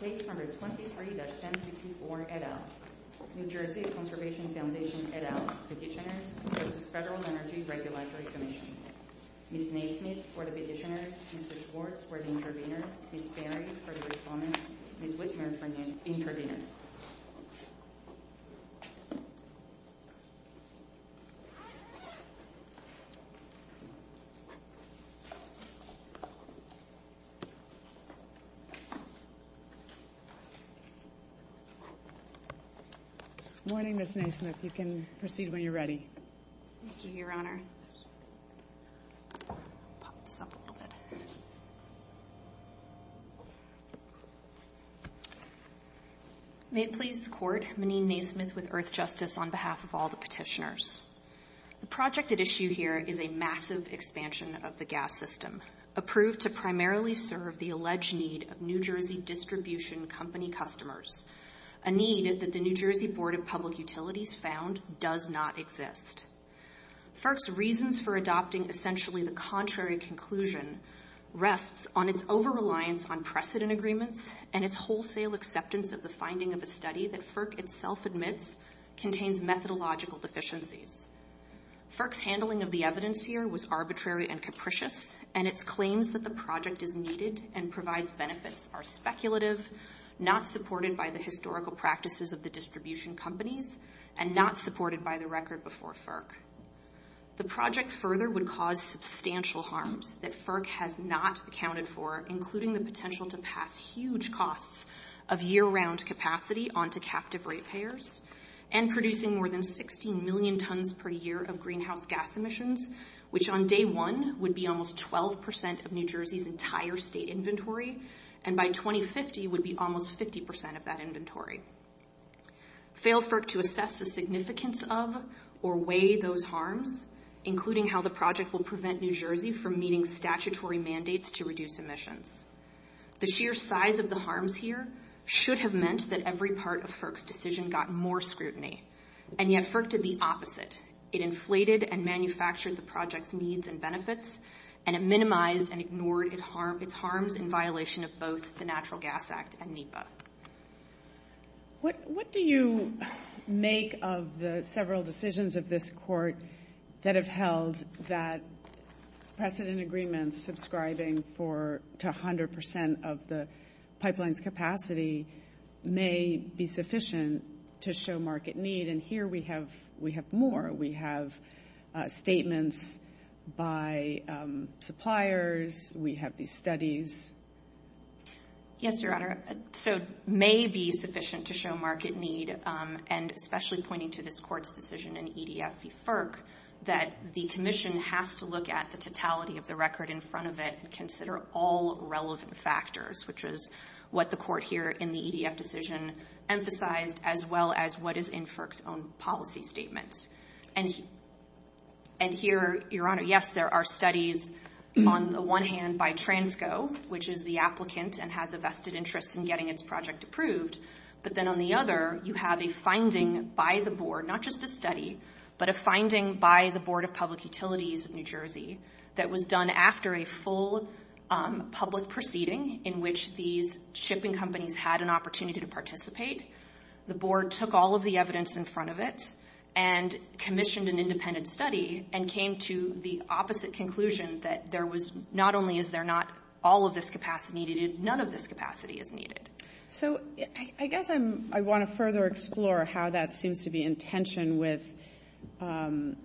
Page 123-1054, et al. New Jersey Conservation Foundation, et al. The petitioner, v. Federal Energy Regulatory Commission. Ms. May Smith, for the petitioner. Mr. Thorpe, for the intervener. Ms. Berry, for the respondent. Ms. Whitmer, for the intervener. Good morning, Ms. May Smith. You can proceed when you're ready. Thank you, Your Honor. May it please the Court, Monique May Smith with Earthjustice on behalf of all the petitioners. The project at issue here is a massive expansion of the gas system. Approved to primarily serve the alleged need of New Jersey distribution company customers. A need that the New Jersey Board of Public Utilities found does not exist. FERC's reasons for adopting essentially the contrary conclusion rests on its over-reliance on precedent agreements and its wholesale acceptance of the finding of a study that FERC itself admits contains methodological deficiencies. FERC's handling of the evidence here was arbitrary and capricious, and its claims that the project is needed and provides benefits are speculative, not supported by the historical practices of the distribution companies, and not supported by the record before FERC. The project further would cause substantial harm that FERC has not accounted for, including the potential to pass huge costs of year-round capacity onto captive rate payers and producing more than 16 million tons per year of greenhouse gas emissions, which on day one would be almost 12% of New Jersey's entire state inventory, and by 2050 would be almost 50% of that inventory. Fail FERC to assess the significance of or weigh those harms, including how the project will prevent New Jersey from meeting statutory mandates to reduce emissions. The sheer size of the harms here should have meant that every part of FERC's decision got more scrutiny, and yet FERC did the opposite. It inflated and manufactured the project's needs and benefits, and it minimized and ignored its harms in violation of both the Natural Gas Act and NEPA. What do you make of the several decisions of this court that have held that precedent agreements subscribing to 100% of the pipeline's capacity may be sufficient to show market need? And here we have more. We have statements by suppliers. We have these studies. Yes, Your Honor. So it may be sufficient to show market need, and especially pointing to this court's decision in EDF v. FERC, that the commission has to look at the totality of the record in front of it and consider all relevant factors, which is what the court here in the EDF decision emphasized, as well as what is in FERC's own policy statement. And here, Your Honor, yes, there are studies on the one hand by Transco, which is the applicant and has a vested interest in getting its project approved, but then on the other you have a finding by the board, not just a study, but a finding by the Board of Public Utilities of New Jersey that was done after a full public proceeding in which these shipping companies had an opportunity to participate. The board took all of the evidence in front of it and commissioned an independent study and came to the opposite conclusion that there was not only is there not all of this capacity needed, none of this capacity is needed. So I guess I want to further explore how that seems to be in tension with the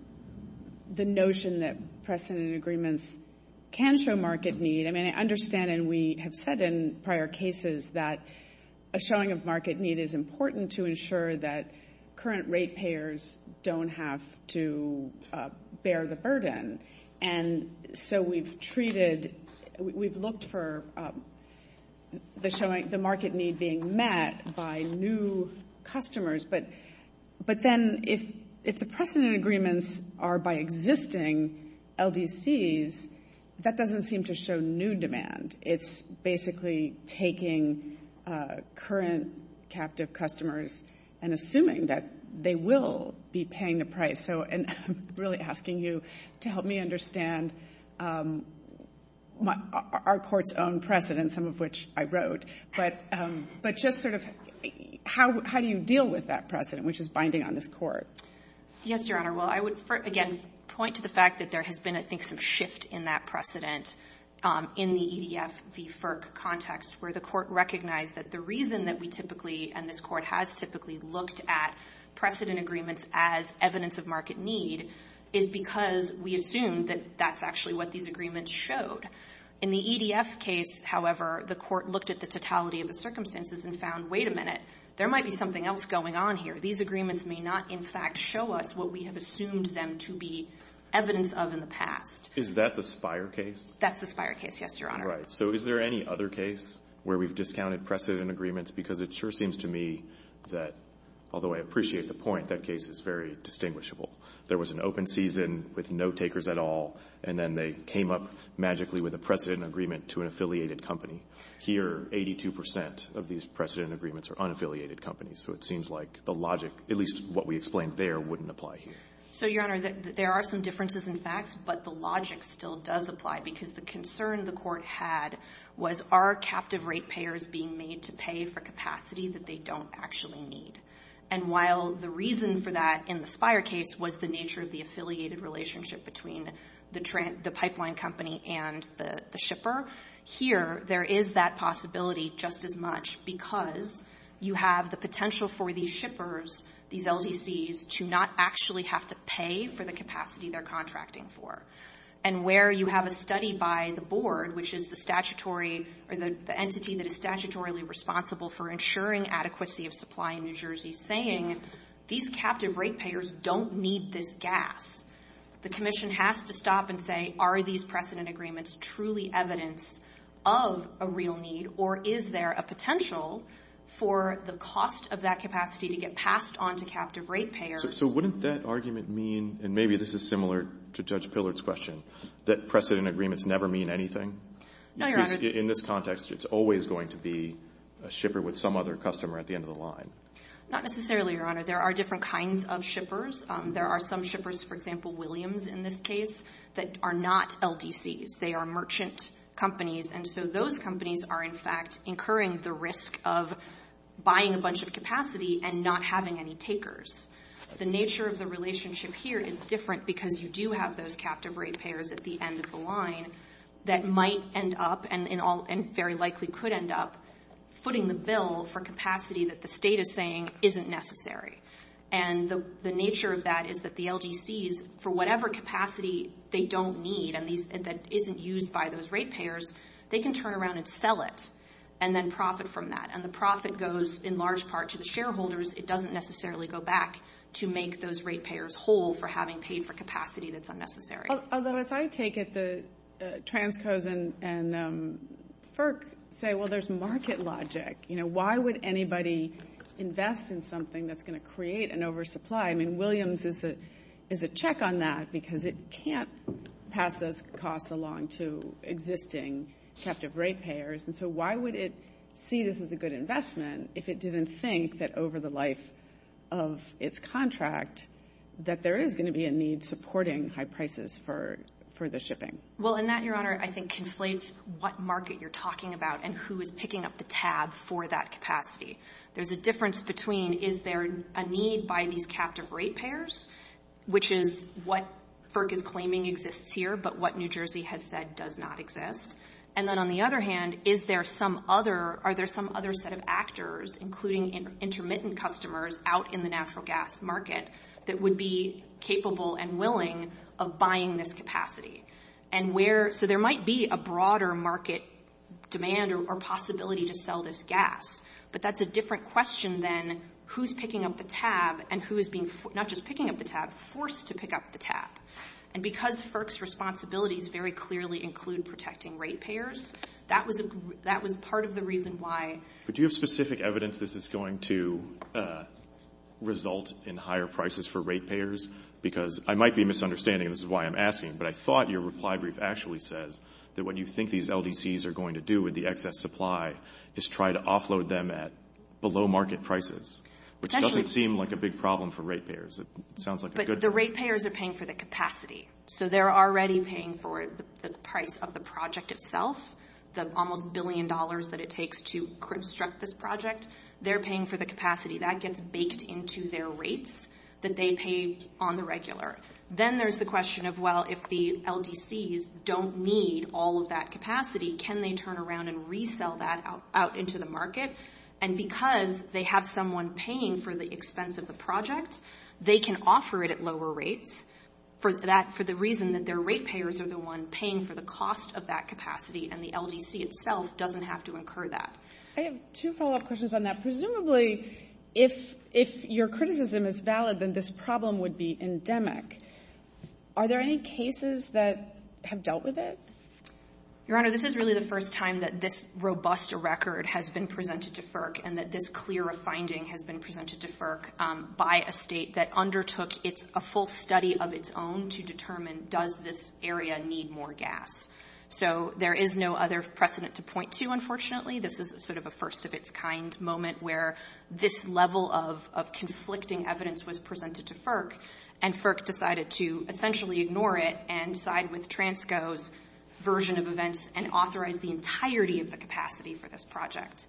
notion that precedent agreements can show market need. I mean, I understand and we have said in prior cases that a showing of market need is important to ensure that current rate payers don't have to bear the burden. And so we've treated, we've looked for the market need being met by new customers, but then if the precedent agreements are by existing LDCs, that doesn't seem to show new demand. It's basically taking current captive customers and assuming that they will be paying the price. So I'm really asking you to help me understand our court's own precedent, some of which I wrote, but just sort of how do you deal with that precedent, which is binding on this court? Yes, Your Honor. Well, I would, again, point to the fact that there has been, I think, some shift in that precedent in the EDF v. FERC context where the court recognized that the reason that we typically and this court has typically looked at precedent agreements as evidence of market need is because we assume that that's actually what these agreements showed. In the EDF case, however, the court looked at the totality of the circumstances and found, wait a minute, there might be something else going on here. These agreements may not, in fact, show us what we have assumed them to be evidence of in the past. Is that the Spire case? That's the Spire case, yes, Your Honor. Right. So is there any other case where we've discounted precedent agreements? Because it sure seems to me that, although I appreciate the point, that case is very distinguishable. There was an open season with no takers at all, and then they came up magically with a precedent agreement to an affiliated company. Here, 82% of these precedent agreements are unaffiliated companies, so it seems like the logic, at least what we explained there, wouldn't apply here. So, Your Honor, there are some differences in fact, but the logic still does apply because the concern the court had was, are captive ratepayers being made to pay for capacities that they don't actually need? And while the reason for that in the Spire case was the nature of the affiliated relationship between the pipeline company and the shipper, here there is that possibility just as much because you have the potential for these shippers, these LDCs, to not actually have to pay for the capacity they're contracting for. And where you have a study by the board, which is the statutory, the entity that is statutorily responsible for ensuring adequacy of supply in New Jersey, saying these captive ratepayers don't need this gas. The commission has to stop and say, are these precedent agreements truly evidence of a real need, or is there a potential for the cost of that capacity to get passed on to captive ratepayers? So wouldn't that argument mean, and maybe this is similar to Judge Pillard's question, that precedent agreements never mean anything? No, Your Honor. In this context, it's always going to be a shipper with some other customer at the end of the line. Not necessarily, Your Honor. There are different kinds of shippers. There are some shippers, for example, Williams in this case, that are not LDCs. They are merchant companies, and so those companies are, in fact, incurring the risk of buying a bunch of capacity and not having any takers. The nature of the relationship here is different because you do have those captive ratepayers at the end of the line that might end up, and very likely could end up, footing the bill for capacity that the state is saying isn't necessary. And the nature of that is that the LDCs, for whatever capacity they don't need and that isn't used by those ratepayers, they can turn around and sell it and then profit from that. And the profit goes, in large part, to the shareholders. It doesn't necessarily go back to make those ratepayers whole for having paid for capacity that's unnecessary. Although if I take it, the Transco's and FERC say, well, there's market logic. Why would anybody invest in something that's going to create an oversupply? I mean, Williams is a check on that because it can't pass those costs along to existing captive ratepayers, and so why would it see this as a good investment if it didn't think that over the life of its contract that there is going to be a need supporting high prices for the shipping? Well, and that, Your Honor, I think conflates what market you're talking about and who is picking up the tab for that capacity. There's a difference between is there a need by these captive ratepayers, which is what FERC is claiming exists here, but what New Jersey has said does not exist. And then on the other hand, are there some other set of actors, including intermittent customers out in the natural gas market that would be capable and willing of buying this capacity? So there might be a broader market demand or possibility to sell this gas, but that's a different question than who's picking up the tab and who is not just picking up the tab, forced to pick up the tab. And because FERC's responsibilities very clearly include protecting ratepayers, that was part of the reason why. But do you have specific evidence this is going to result in higher prices for ratepayers? Because I might be misunderstanding, and this is why I'm asking, but I thought your reply brief actually says that what you think these LDCs are going to do with the excess supply is try to offload them at below market prices, which doesn't seem like a big problem for ratepayers. But the ratepayers are paying for the capacity, so they're already paying for the price of the project itself, the almost billion dollars that it takes to construct this project. They're paying for the capacity. That gets baked into their rates that they pay on the regular. Then there's the question of, well, if the LDCs don't need all of that capacity, can they turn around and resell that out into the market? And because they have someone paying for the expense of the project, they can offer it at lower rates for the reason that their ratepayers are the ones paying for the cost of that capacity, and the LDC itself doesn't have to incur that. I have two follow-up questions on that. Presumably, if your criticism is valid, then this problem would be endemic. Are there any cases that have dealt with it? Your Honor, this is really the first time that this robust record has been presented to FERC and that this clear finding has been presented to FERC by a state that undertook a full study of its own to determine does this area need more gas. So there is no other precedent to point to, unfortunately. This is sort of a first-of-its-kind moment where this level of conflicting evidence was presented to FERC, and FERC decided to essentially ignore it and side with TRANSCO's version of events and authorize the entirety of the capacity for this project.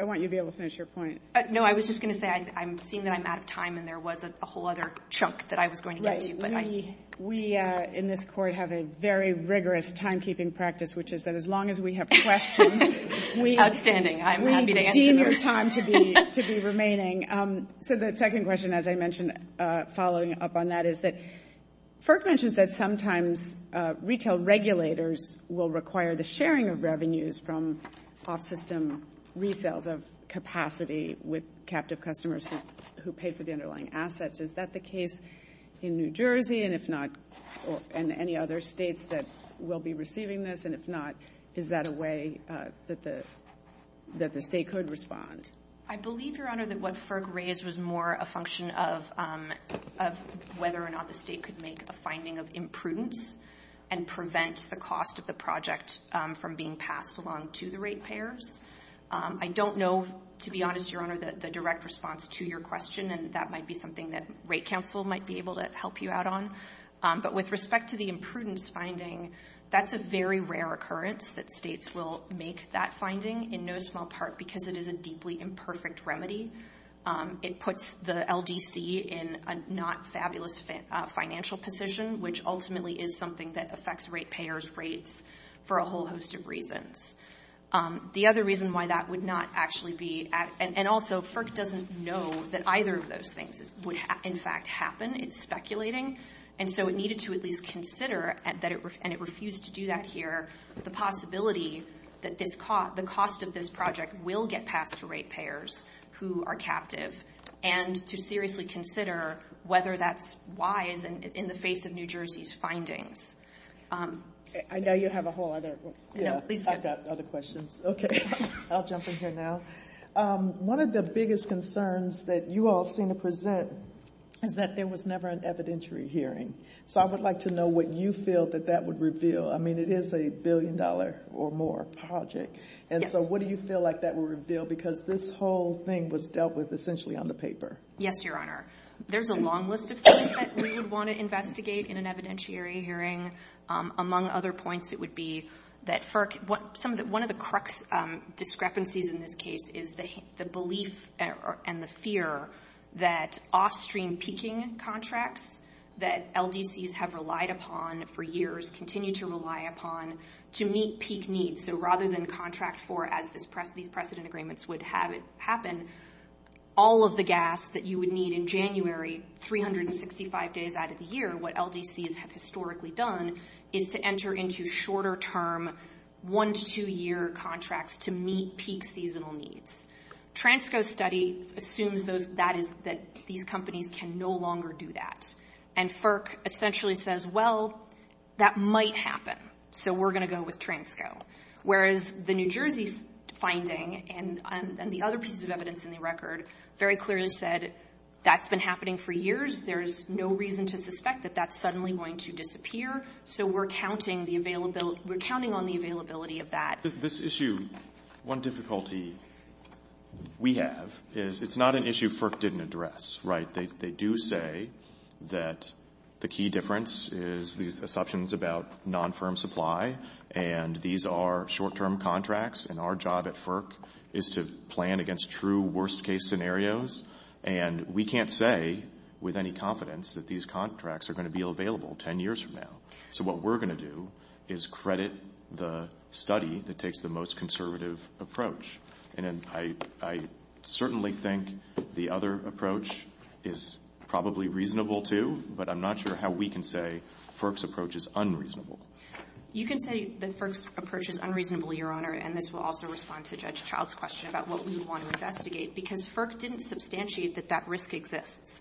I want you to be able to finish your point. No, I was just going to say I'm seeing that I'm out of time, and there wasn't a whole other chunk that I was going to get to. We in this Court have a very rigorous timekeeping practice, which is that as long as we have questions, we deem your time to be remaining. So the second question, as I mentioned following up on that, is that FERC mentions that sometimes retail regulators will require the sharing of revenues from off-system retails of capacity with captive customers who pay for the underlying assets. Is that the case in New Jersey and any other states that will be receiving this? And if not, is that a way that the state could respond? I believe, Your Honor, that what FERC raised was more a function of whether or not the state could make a finding of imprudence and prevent the cost of the project from being passed along to the rate payers. I don't know, to be honest, Your Honor, the direct response to your question, and that might be something that Rate Counsel might be able to help you out on. But with respect to the imprudence finding, that's a very rare occurrence that states will make that finding, in no small part because it is a deeply imperfect remedy. It puts the LDC in a not fabulous financial position, which ultimately is something that affects rate payers' rates for a whole host of reasons. The other reason why that would not actually be, and also FERC doesn't know that either of those things would, in fact, happen. It's speculating. And so it needed to at least consider, and it refused to do that here, the possibility that the cost of this project will get passed to rate payers who are captive, and to seriously consider whether that's wise in the face of New Jersey's findings. I know you have a whole other, yeah, I've got other questions. Okay. I'll jump in here now. One of the biggest concerns that you all seem to present is that there was never an evidentiary hearing. So I would like to know what you feel that that would reveal. I mean, it is a billion-dollar or more project. And so what do you feel like that would reveal? Because this whole thing was dealt with essentially on the paper. Yes, Your Honor. There's a long list of things that we would want to investigate in an evidentiary hearing. Among other points, it would be that one of the crux discrepancies in this case is the belief and the fear that off-stream peaking contracts that LDCs have relied upon for years continue to rely upon to meet peak needs. So rather than contract for, as these precedent agreements would have it happen, all of the gas that you would need in January 365 days out of the year, what LDCs have historically done is to enter into shorter-term one- to two-year contracts to meet peak seasonal needs. Transco's study assumes that these companies can no longer do that. And FERC essentially says, well, that might happen. So we're going to go with Transco. Whereas the New Jersey finding and the other pieces of evidence in the record very clearly said that's been happening for years. There's no reason to suspect that that's suddenly going to disappear. So we're counting on the availability of that. This issue, one difficulty we have is it's not an issue FERC didn't address. They do say that the key difference is the assumptions about non-firm supply, and these are short-term contracts, and our job at FERC is to plan against true worst-case scenarios. And we can't say with any confidence that these contracts are going to be available ten years from now. So what we're going to do is credit the study that takes the most conservative approach. And I certainly think the other approach is probably reasonable too, but I'm not sure how we can say FERC's approach is unreasonable. You can say that FERC's approach is unreasonable, Your Honor, and this will also respond to Judge Howe's question about what we want to investigate, because FERC didn't substantiate that that risk exists.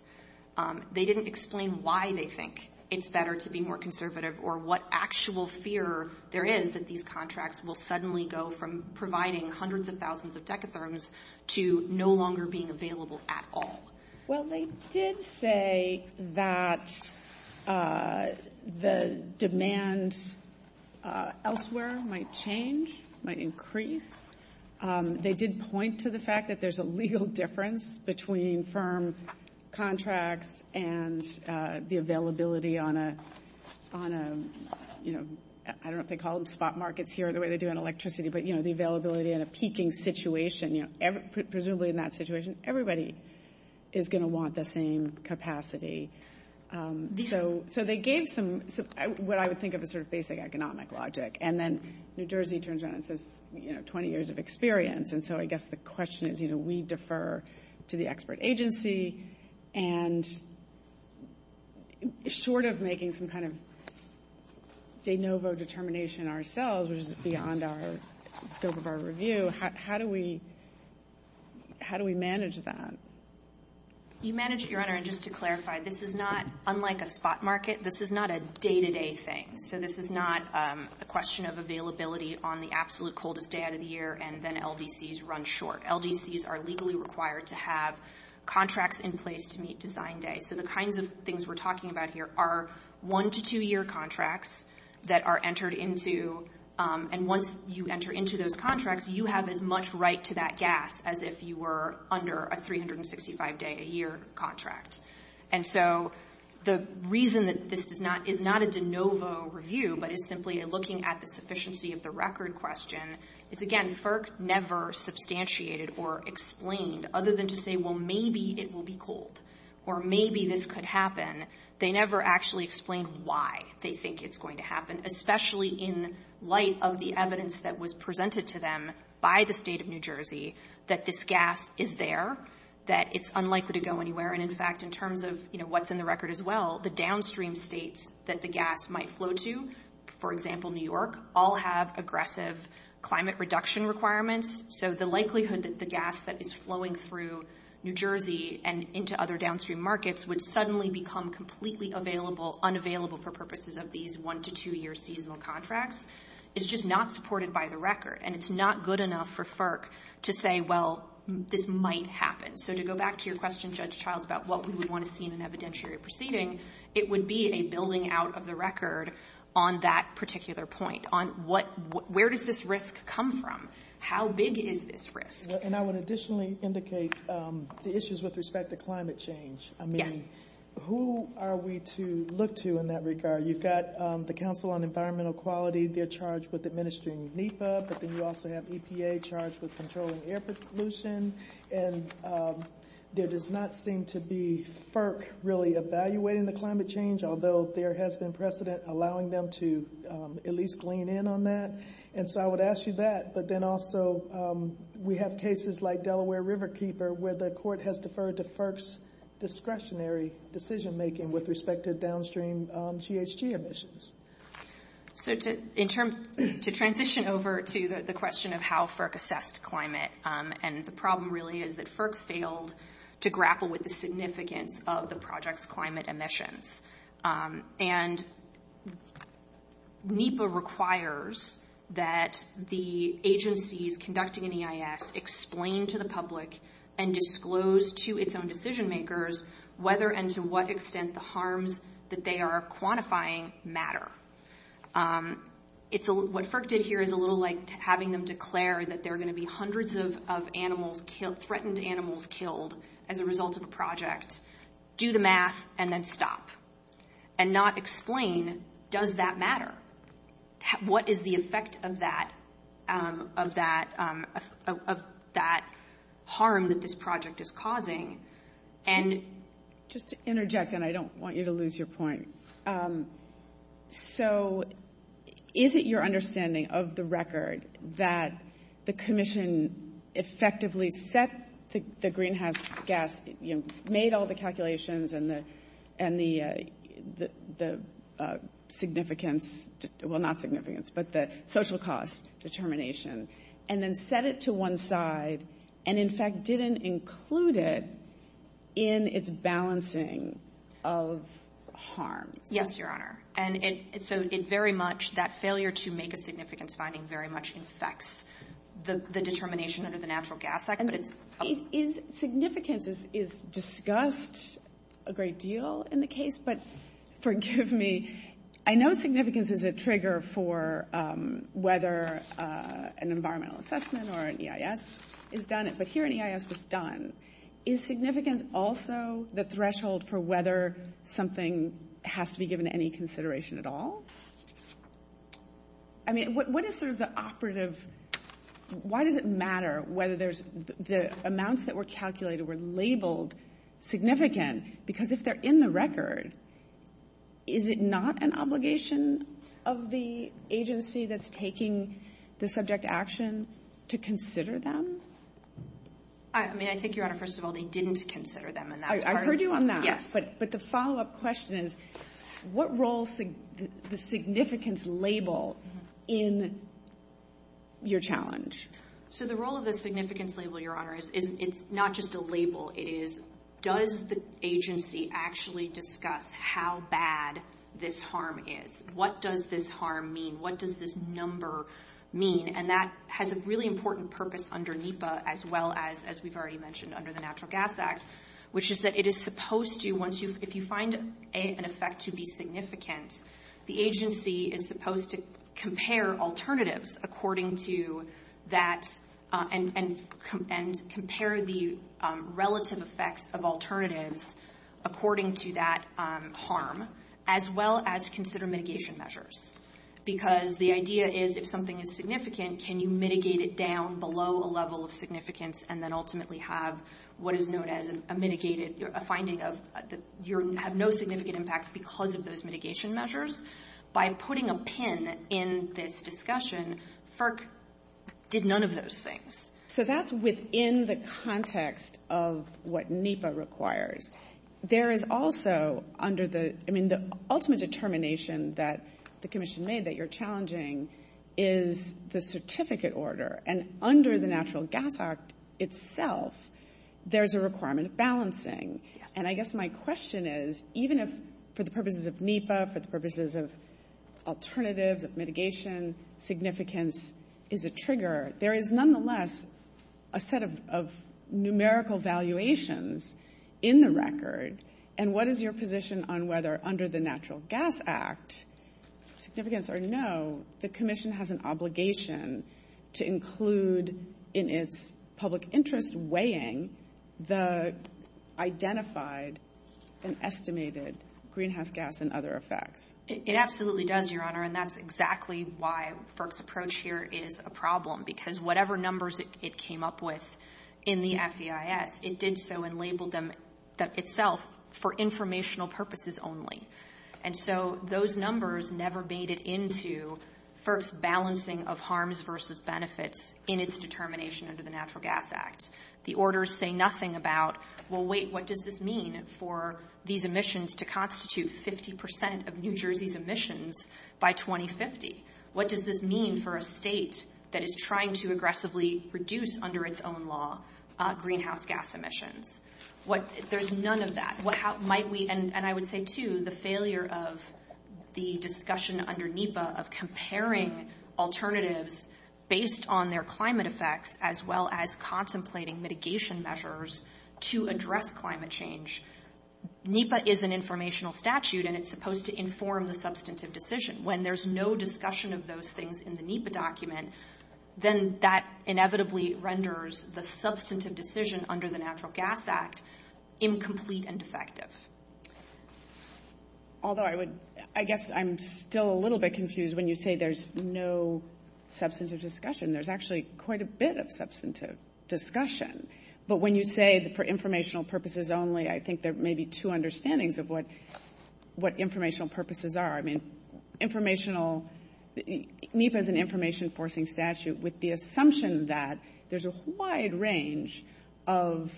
They didn't explain why they think it's better to be more conservative or what actual fear there is that these contracts will suddenly go from providing hundreds of thousands of decatherms to no longer being available at all. Well, they did say that the demand elsewhere might change, might increase. They did point to the fact that there's a legal difference between firm contracts and the availability on a, you know, I don't know if they call them spot markets here, the way they do on electricity, but, you know, the availability in a peaking situation. Presumably in that situation, everybody is going to want the same capacity. So they gave some, what I would think of as sort of basic economic logic, and then New Jersey turns around and says, you know, 20 years of experience. And so I guess the question is, you know, we defer to the expert agency, and short of making some kind of de novo determination ourselves, which is beyond our scope of our review, how do we manage that? You manage it, Your Honor, and just to clarify, this is not, unlike a spot market, this is not a day-to-day thing. So this is not a question of availability on the absolute coldest day of the year, and then LDCs run short. LDCs are legally required to have contracts in place to meet design day. So the kinds of things we're talking about here are one- to two-year contracts that are entered into, and once you enter into those contracts, you have as much right to that gas as if you were under a 365-day-a-year contract. And so the reason that this is not a de novo review, but it's simply looking at the sufficiency of the record question, is, again, FERC never substantiated or explained, other than to say, well, maybe it will be cold, or maybe this could happen. They never actually explained why they think it's going to happen, especially in light of the evidence that was presented to them by the State of New Jersey that this gas is there, that it's unlikely to go anywhere. And, in fact, in terms of what's in the record as well, the downstream states that the gas might flow to, for example, New York, all have aggressive climate reduction requirements. So the likelihood that the gas that is flowing through New Jersey and into other downstream markets would suddenly become completely unavailable for purposes of these one- to two-year seasonal contracts is just not supported by the record, and it's not good enough for FERC to say, well, this might happen. So to go back to your question, Judge Childs, about what we would want to see in an evidentiary proceeding, it would be a building out of the record on that particular point, on where does this risk come from, how big is this risk. And I would additionally indicate the issues with respect to climate change. I mean, who are we to look to in that regard? You've got the Council on Environmental Quality, they're charged with administering NEPA, but then you also have EPA charged with controlling air pollution, and there does not seem to be FERC really evaluating the climate change, although there has been precedent allowing them to at least lean in on that. And so I would ask you that. But then also we have cases like Delaware Riverkeeper, where the court has deferred to FERC's discretionary decision-making with respect to downstream GHG emissions. So to transition over to the question of how FERC assesses climate and the problem really is that FERC failed to grapple with the significance of the project's climate emissions. And NEPA requires that the agencies conducting an EIS explain to the public and disclose to its own decision-makers whether and to what extent the harms that they are quantifying matter. What FERC did here is a little like having them declare that there are going to be hundreds of animals killed, threatened animals killed, as a result of the project. Do the math and then stop. And not explain, does that matter? What is the effect of that harm that this project is causing? Just to interject, and I don't want you to lose your point. So is it your understanding of the record that the commission effectively set the greenhouse gas, made all the calculations and the social cost determination, and then set it to one side and, in fact, didn't include it in its balancing of harm? Yes, Your Honor. And so it very much, that failure to make a significance finding, very much affects the determination under the Natural Gas Act. Significance is discussed a great deal in the case, but forgive me. I know significance is a trigger for whether an environmental assessment or an EIS is done, but here an EIS is done. Is significance also the threshold for whether something has to be given any consideration at all? I mean, what is sort of the operative, why does it matter whether the amounts that were calculated or were labeled significant? Because if they're in the record, is it not an obligation of the agency that's taking the subject action to consider them? I mean, I think, Your Honor, first of all, they didn't consider them. I heard you on that. Yes. But the follow-up question is, what role does significance label in your challenge? So the role of the significance label, Your Honor, is not just a label. It is, does the agency actually discuss how bad this harm is? What does this harm mean? What does this number mean? And that has a really important purpose under NEPA as well as we've already mentioned under the Natural Gas Act, which is that it is supposed to, if you find an effect to be significant, the agency is supposed to compare alternatives according to that and compare the relative effects of alternatives according to that harm, as well as consider mitigation measures. Because the idea is, if something is significant, can you mitigate it down below a level of significance and then ultimately have what is known as a mitigated, a finding of you have no significant impact because of those mitigation measures? By putting a pin in this discussion, FERC did none of those things. So that's within the context of what NEPA requires. There is also under the, I mean, the ultimate determination that the Commission made that you're challenging is the certificate order. And under the Natural Gas Act itself, there's a requirement of balancing. And I guess my question is, even if for the purposes of NEPA, for the purposes of alternatives, of mitigation, significance is a trigger, there is nonetheless a set of numerical valuations in the record. And what is your position on whether under the Natural Gas Act, significance or no, the Commission has an obligation to include in its public interest weighing the identified and estimated greenhouse gas and other effects? It absolutely does, Your Honor, and that's exactly why FERC's approach here is a problem. Because whatever numbers it came up with in the FEIS, it did so and labeled them itself for informational purposes only. And so those numbers never made it into FERC's balancing of harms versus benefits in its determination under the Natural Gas Act. The orders say nothing about, well, wait, what does this mean for these emissions to constitute 50% of New Jersey's emissions by 2050? What does this mean for a state that is trying to aggressively reduce, under its own law, greenhouse gas emissions? There's none of that. And I would say, too, the failure of the discussion under NEPA of comparing alternatives based on their climate effects as well as contemplating mitigation measures to address climate change. NEPA is an informational statute and it's supposed to inform the substantive decision. When there's no discussion of those things in the NEPA document, then that inevitably renders the substantive decision under the Natural Gas Act incomplete and defective. Although I guess I'm still a little bit confused when you say there's no substantive discussion. There's actually quite a bit of substantive discussion. But when you say for informational purposes only, I think there may be two understandings of what informational purposes are. NEPA is an information-enforcing statute with the assumption that there's a wide range of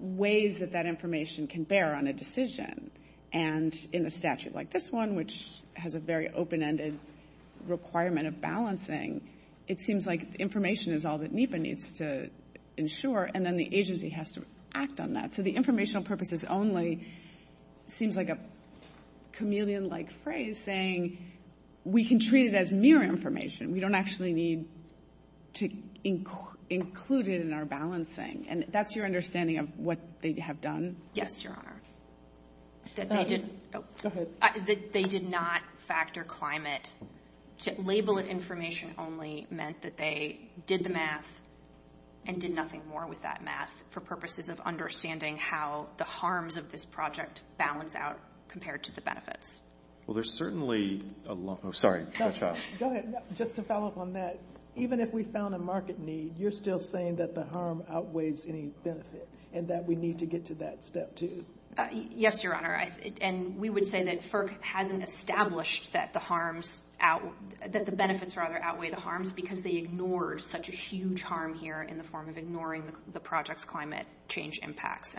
ways that that information can bear on a decision. And in a statute like this one, which has a very open-ended requirement of balancing, it seems like information is all that NEPA needs to ensure and then the agency has to act on that. So the informational purposes only seems like a chameleon-like phrase saying we can treat it as mere information. We don't actually need to include it in our balancing. And that's your understanding of what they have done? Yes, Your Honor. Go ahead. They did not factor climate. To label it information only meant that they did the math and did nothing more with that math for purposes of understanding how the harms of this project balance out compared to the benefits. Well, there's certainly a lot. I'm sorry. Go ahead. Just to follow up on that. Even if we found a market need, you're still saying that the harm outweighs any benefit and that we need to get to that step two. Yes, Your Honor. And we would say that FERC hasn't established that the benefits outweigh the harms because they ignored such a huge harm here in the form of ignoring the project's climate change impacts.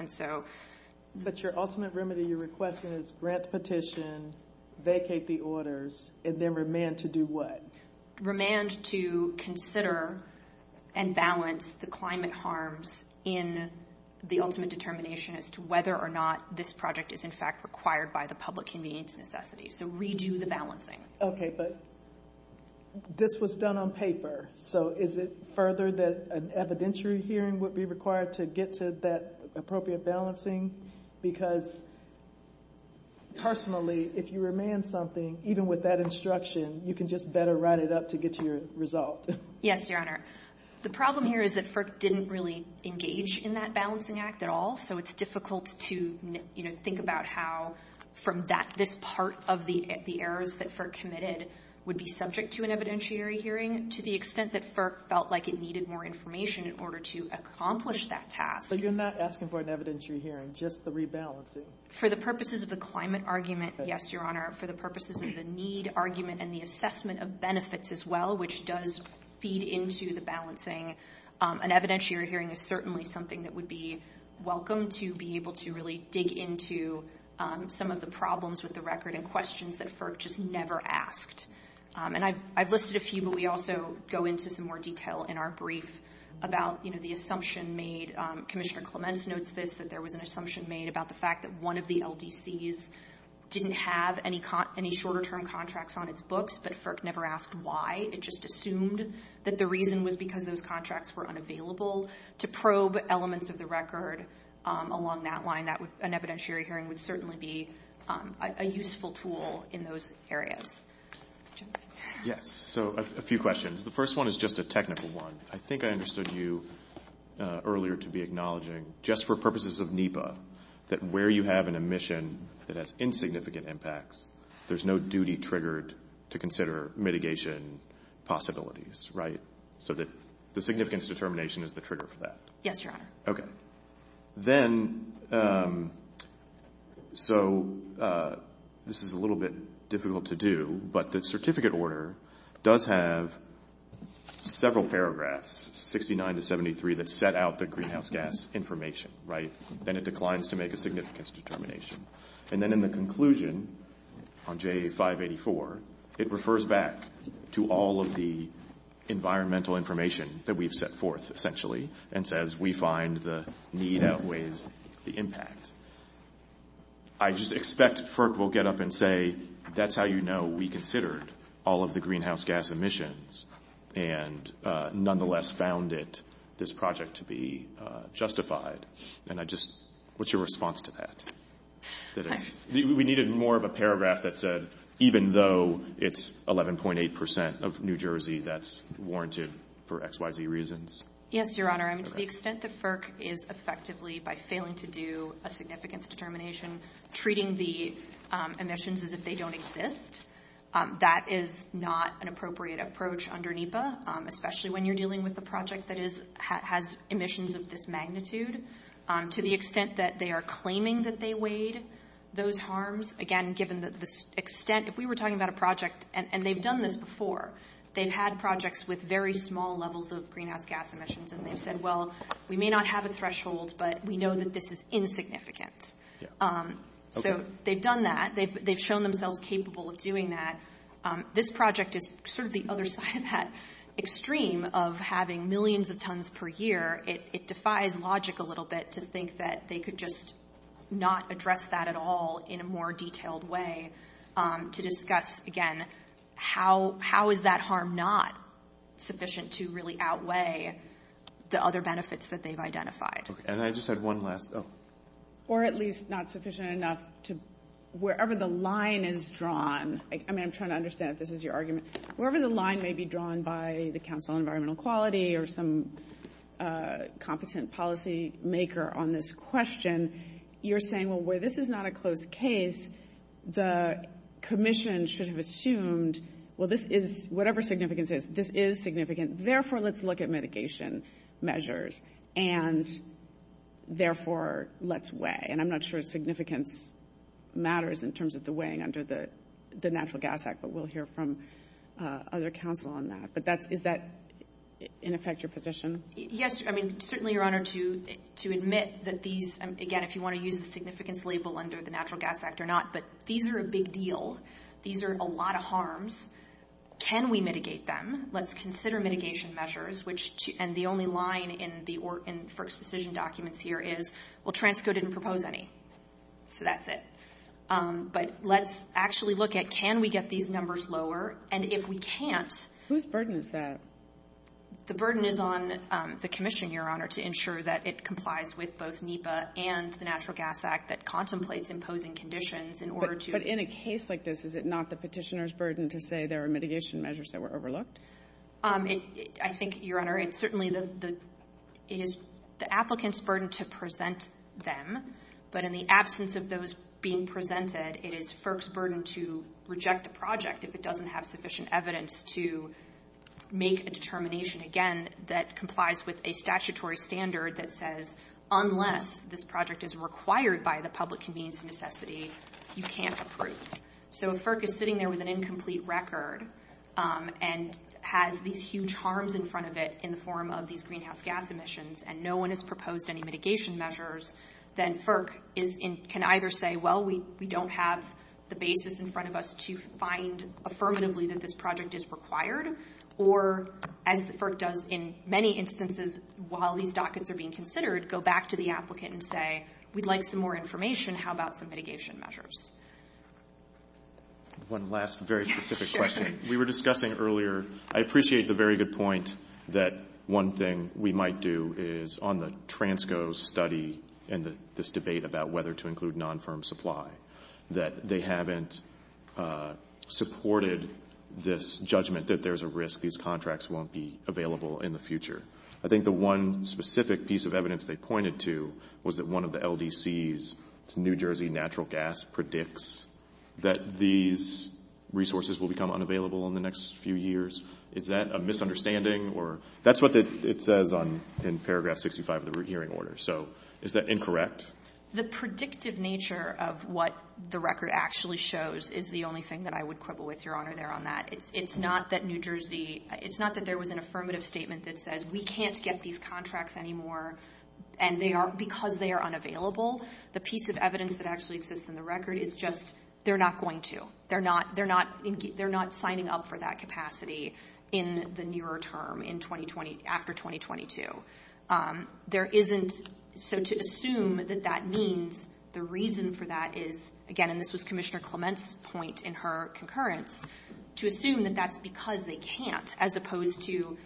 But your ultimate remedy, your request is grant the petition, vacate the orders, and then remand to do what? Okay, but this was done on paper. So is it further that an evidentiary hearing would be required to get to that appropriate balancing? Because personally, if you remand something, even with that instruction, you can just better write it up to get to your result. Yes, Your Honor. The problem here is that FERC didn't really engage in that balancing act at all, so it's difficult to think about how from this part of the errors that FERC committed would be subject to an evidentiary hearing to the extent that FERC felt like it needed more information in order to accomplish that task. So you're not asking for an evidentiary hearing, just the rebalancing? For the purposes of the climate argument, yes, Your Honor. For the purposes of the need argument and the assessment of benefits as well, which does feed into the balancing, an evidentiary hearing is certainly something that would be welcome to be able to really dig into some of the problems with the record and questions that FERC just never asked. And I've listed a few, but we also go into some more detail in our brief about, you know, the assumption made Commissioner Clements notes that there was an assumption made about the fact that one of the LDCs didn't have any short-term contracts on its books, but FERC never asked why. It just assumed that the reason was because those contracts were unavailable. To probe elements of the record along that line, an evidentiary hearing would certainly be a useful tool in those areas. Yes, so a few questions. The first one is just a technical one. I think I understood you earlier to be acknowledging, just for purposes of NEPA, that where you have an emission that has insignificant impacts, there's no duty triggered to consider mitigation possibilities, right? So the significance determination is the trigger for that. Yes, Your Honor. Okay. Then, so this is a little bit difficult to do, but the certificate order does have several paragraphs, 69 to 73, that set out the greenhouse gas information, right? And it declines to make a significance determination. And then in the conclusion on J584, it refers back to all of the environmental information that we've set forth, essentially, and says we find the need outweighs the impact. I just expect FERC will get up and say, that's how you know we considered all of the greenhouse gas emissions and nonetheless found it, this project, to be justified. And I just, what's your response to that? We needed more of a paragraph that said, even though it's 11.8% of New Jersey, that's warranted for X, Y, Z reasons. Yes, Your Honor. And to the extent that FERC is effectively, by failing to do a significance determination, treating the emissions as if they don't exist, that is not an appropriate approach under NEPA, especially when you're dealing with a project that has emissions of this magnitude. To the extent that they are claiming that they weighed those harms, again, given the extent, if we were talking about a project, and they've done this before, they've had projects with very small levels of greenhouse gas emissions, and they've said, well, we may not have a threshold, but we know that this is insignificant. So they've done that. They've shown themselves capable of doing that. This project is sort of the other side of that extreme of having millions of tons per year. It defies logic a little bit to think that they could just not address that at all in a more detailed way to discuss, again, how is that harm not sufficient to really outweigh the other benefits that they've identified? And I just had one last. Or at least not sufficient enough to, wherever the line is drawn, I'm trying to understand if this is your argument, wherever the line may be drawn by the Council on Environmental Quality or some competent policymaker on this question, you're saying, well, where this is not a closed case, the commission should have assumed, well, this is, whatever significance is, this is significant, therefore let's look at mitigation measures, and therefore let's weigh. And I'm not sure significance matters in terms of the weighing under the Natural Gas Act, but we'll hear from other council on that. But is that, in effect, your position? Yes. I mean, certainly you're honored to admit that these, again, if you want to use the significance label under the Natural Gas Act or not, but these are a big deal. These are a lot of harms. Can we mitigate them? Let's consider mitigation measures, which, and the only line for exclusion documents here is, well, Transco didn't propose any, so that's it. But let's actually look at can we get these numbers lower, and if we can't. Whose burden is that? The burden is on the commission, Your Honor, to ensure that it complies with both NEPA and the Natural Gas Act that contemplates imposing conditions in order to. But in a case like this, is it not the petitioner's burden to say there are mitigation measures that were overlooked? I think, Your Honor, it's certainly the applicant's burden to present them, but in the absence of those being presented, it is FERC's burden to reject the project if it doesn't have sufficient evidence to make a determination, again, that complies with a statutory standard that says, unless this project is required by the public convenience necessity, you can't approve. So if FERC is sitting there with an incomplete record and has these huge harms in front of it in the form of these greenhouse gas emissions and no one has proposed any mitigation measures, then FERC can either say, well, we don't have the basis in front of us to find affirmatively that this project is required, or, as FERC does in many instances while these documents are being considered, go back to the applicant and say, we'd like some more information. How about some mitigation measures? One last very specific question. We were discussing earlier, I appreciate the very good point that one thing we might do is, on the TRANSCO study and this debate about whether to include non-firm supply, that they haven't supported this judgment that there's a risk these contracts won't be available in the future. I think the one specific piece of evidence they pointed to was that one of the LDCs, New Jersey Natural Gas, predicts that these resources will become unavailable in the next few years. Is that a misunderstanding? That's what it says in paragraph 65 of the hearing order. So is that incorrect? The predictive nature of what the record actually shows is the only thing that I would quibble with, Your Honor, there on that. It's not that New Jersey, it's not that there was an affirmative statement that says, we can't get these contracts anymore because they are unavailable. The piece of evidence that actually exists in the record is just, they're not going to. They're not signing up for that capacity in the nearer term, in 2020, after 2022. There isn't, so to assume that that means, the reason for that is, again, this was Commissioner Clement's point in her concurrence, to assume that that's because they can't, as opposed to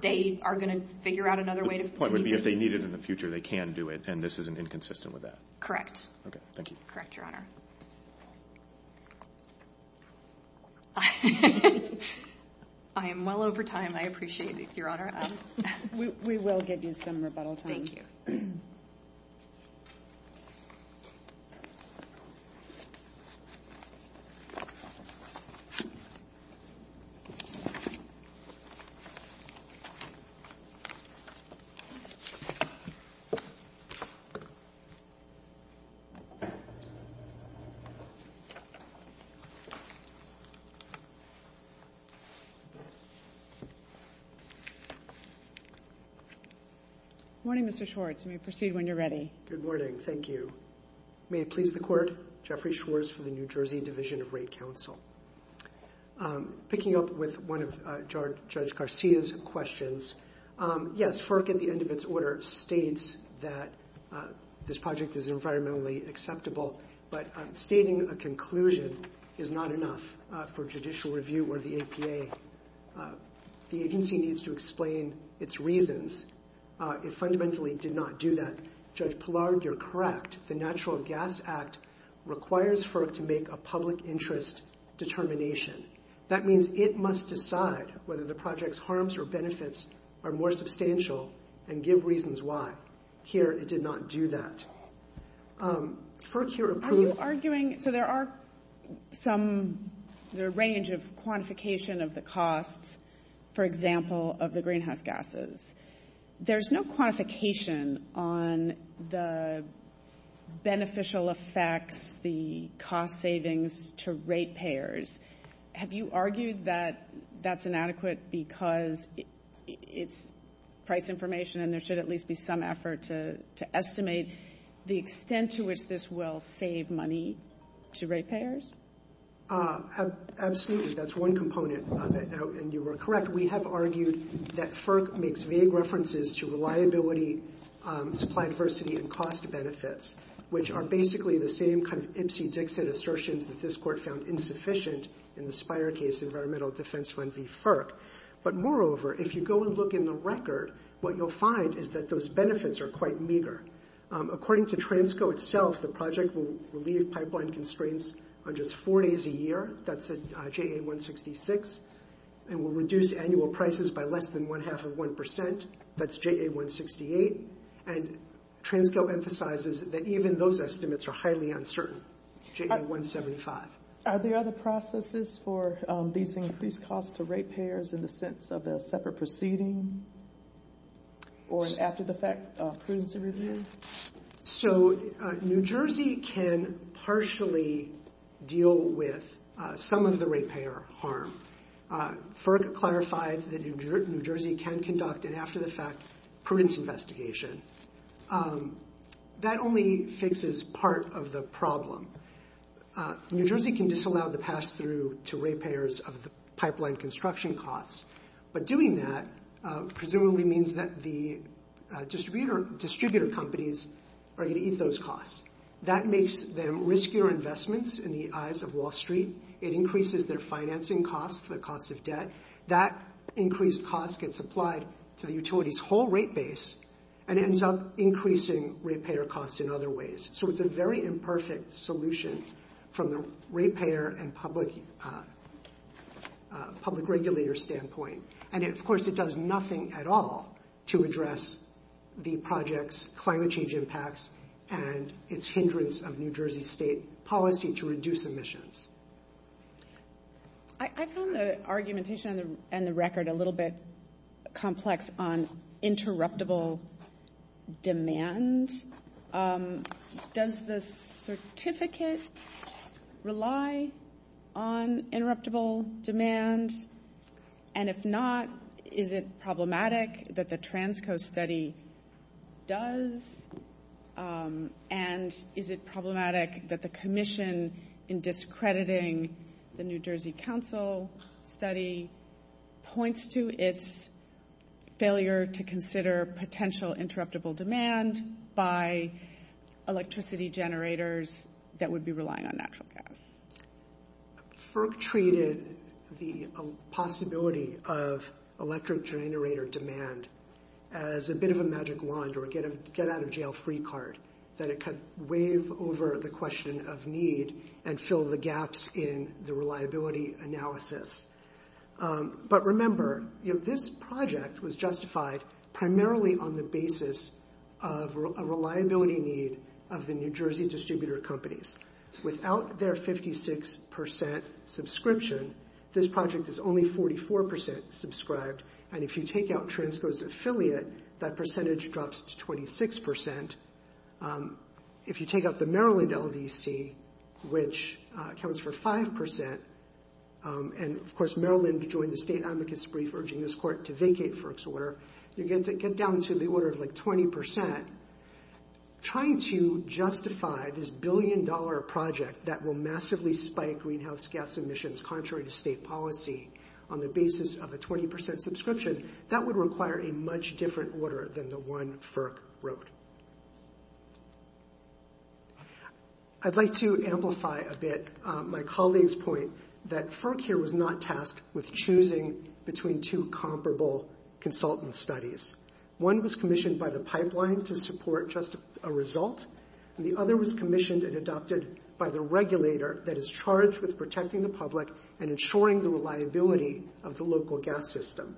they are going to figure out another way. The point would be if they need it in the future, they can do it, and this is inconsistent with that. Correct. Okay, thank you. Correct, Your Honor. I am well over time. I appreciate this, Your Honor. We will give you some rebuttal time. Thank you. Thank you. Good morning. Thank you. May it please the Court, Jeffrey Schwartz from the New Jersey Division of Rate Counsel. Picking up with one of Judge Garcia's questions, yes, FERC, at the end of its order, states that this project is environmentally acceptable, but stating a conclusion is not enough for judicial review or the APA. The agency needs to explain its reasons. It fundamentally did not do that. Judge Pillard, you're correct. The Natural Gas Act requires FERC to make a public interest determination. That means it must decide whether the project's harms or benefits are more substantial and give reasons why. Here, it did not do that. FERC here approves. You're arguing, so there are some, there's a range of quantification of the costs, for example, of the greenhouse gases. There's no quantification on the beneficial effects, the cost savings to rate payers. Have you argued that that's inadequate because it's price information and there should at least be some effort to estimate the extent to which this will save money to rate payers? Absolutely. That's one component, and you were correct. We have argued that FERC makes vague references to reliability, supply diversity, and cost benefits, which are basically the same kind of Ipsy-Dixon assertions that this Court found insufficient in the Spire case, Environmental Defense Fund v. FERC. But moreover, if you go and look in the record, what you'll find is that those benefits are quite meager. According to TRANSCO itself, the project will leave pipeline constraints on just four days a year. That's a JA-166, and will reduce annual prices by less than one-half of one percent. That's JA-168. And TRANSCO emphasizes that even those estimates are highly uncertain, JA-175. Are there other processes for these increased costs to rate payers in the sense of a separate proceeding or an after-the-fact prudence review? So New Jersey can partially deal with some of the rate payer harm. FERC clarified that New Jersey can conduct an after-the-fact prudence investigation. That only fixes part of the problem. New Jersey can disallow the pass-through to rate payers of pipeline construction costs, but doing that presumably means that the distributor companies are going to eat those costs. That makes them riskier investments in the eyes of Wall Street. It increases their financing costs, their costs of debt. That increased cost gets applied to the utility's whole rate base, and ends up increasing rate payer costs in other ways. So it's a very imperfect solution from a rate payer and public regulator standpoint. And, of course, it does nothing at all to address the project's climate change impacts and its hindrance of New Jersey state policy to reduce emissions. I found the argumentation and the record a little bit complex on interruptible demand. Does the certificate rely on interruptible demand? And if not, is it problematic that the Transco study does? And is it problematic that the commission in discrediting the New Jersey Council study points to its failure to consider potential interruptible demand by electricity generators that would be relying on natural gas? FERC treated the possibility of electric generator demand as a bit of a magic wand or get-out-of-jail-free card, that it could wave over the question of need and fill the gaps in the reliability analysis. But remember, this project was justified primarily on the basis of a reliability need of the New Jersey distributor companies. Without their 56% subscription, this project is only 44% subscribed, and if you take out Transco's affiliate, that percentage drops to 26%. If you take out the Maryland LDC, which accounts for 5%, and, of course, Maryland joined the state advocates' brief urging this court to vacate FERC's order, you get down to the order of, like, 20%. Trying to justify this billion-dollar project that will massively spike greenhouse gas emissions contrary to state policy on the basis of a 20% subscription, that would require a much different order than the one FERC wrote. I'd like to amplify a bit my colleague's point that FERC here was not tasked with choosing between two comparable consultant studies. One was commissioned by the pipeline to support just a result, and the other was commissioned and adopted by the regulator that is charged with protecting the public and ensuring the reliability of the local gas system.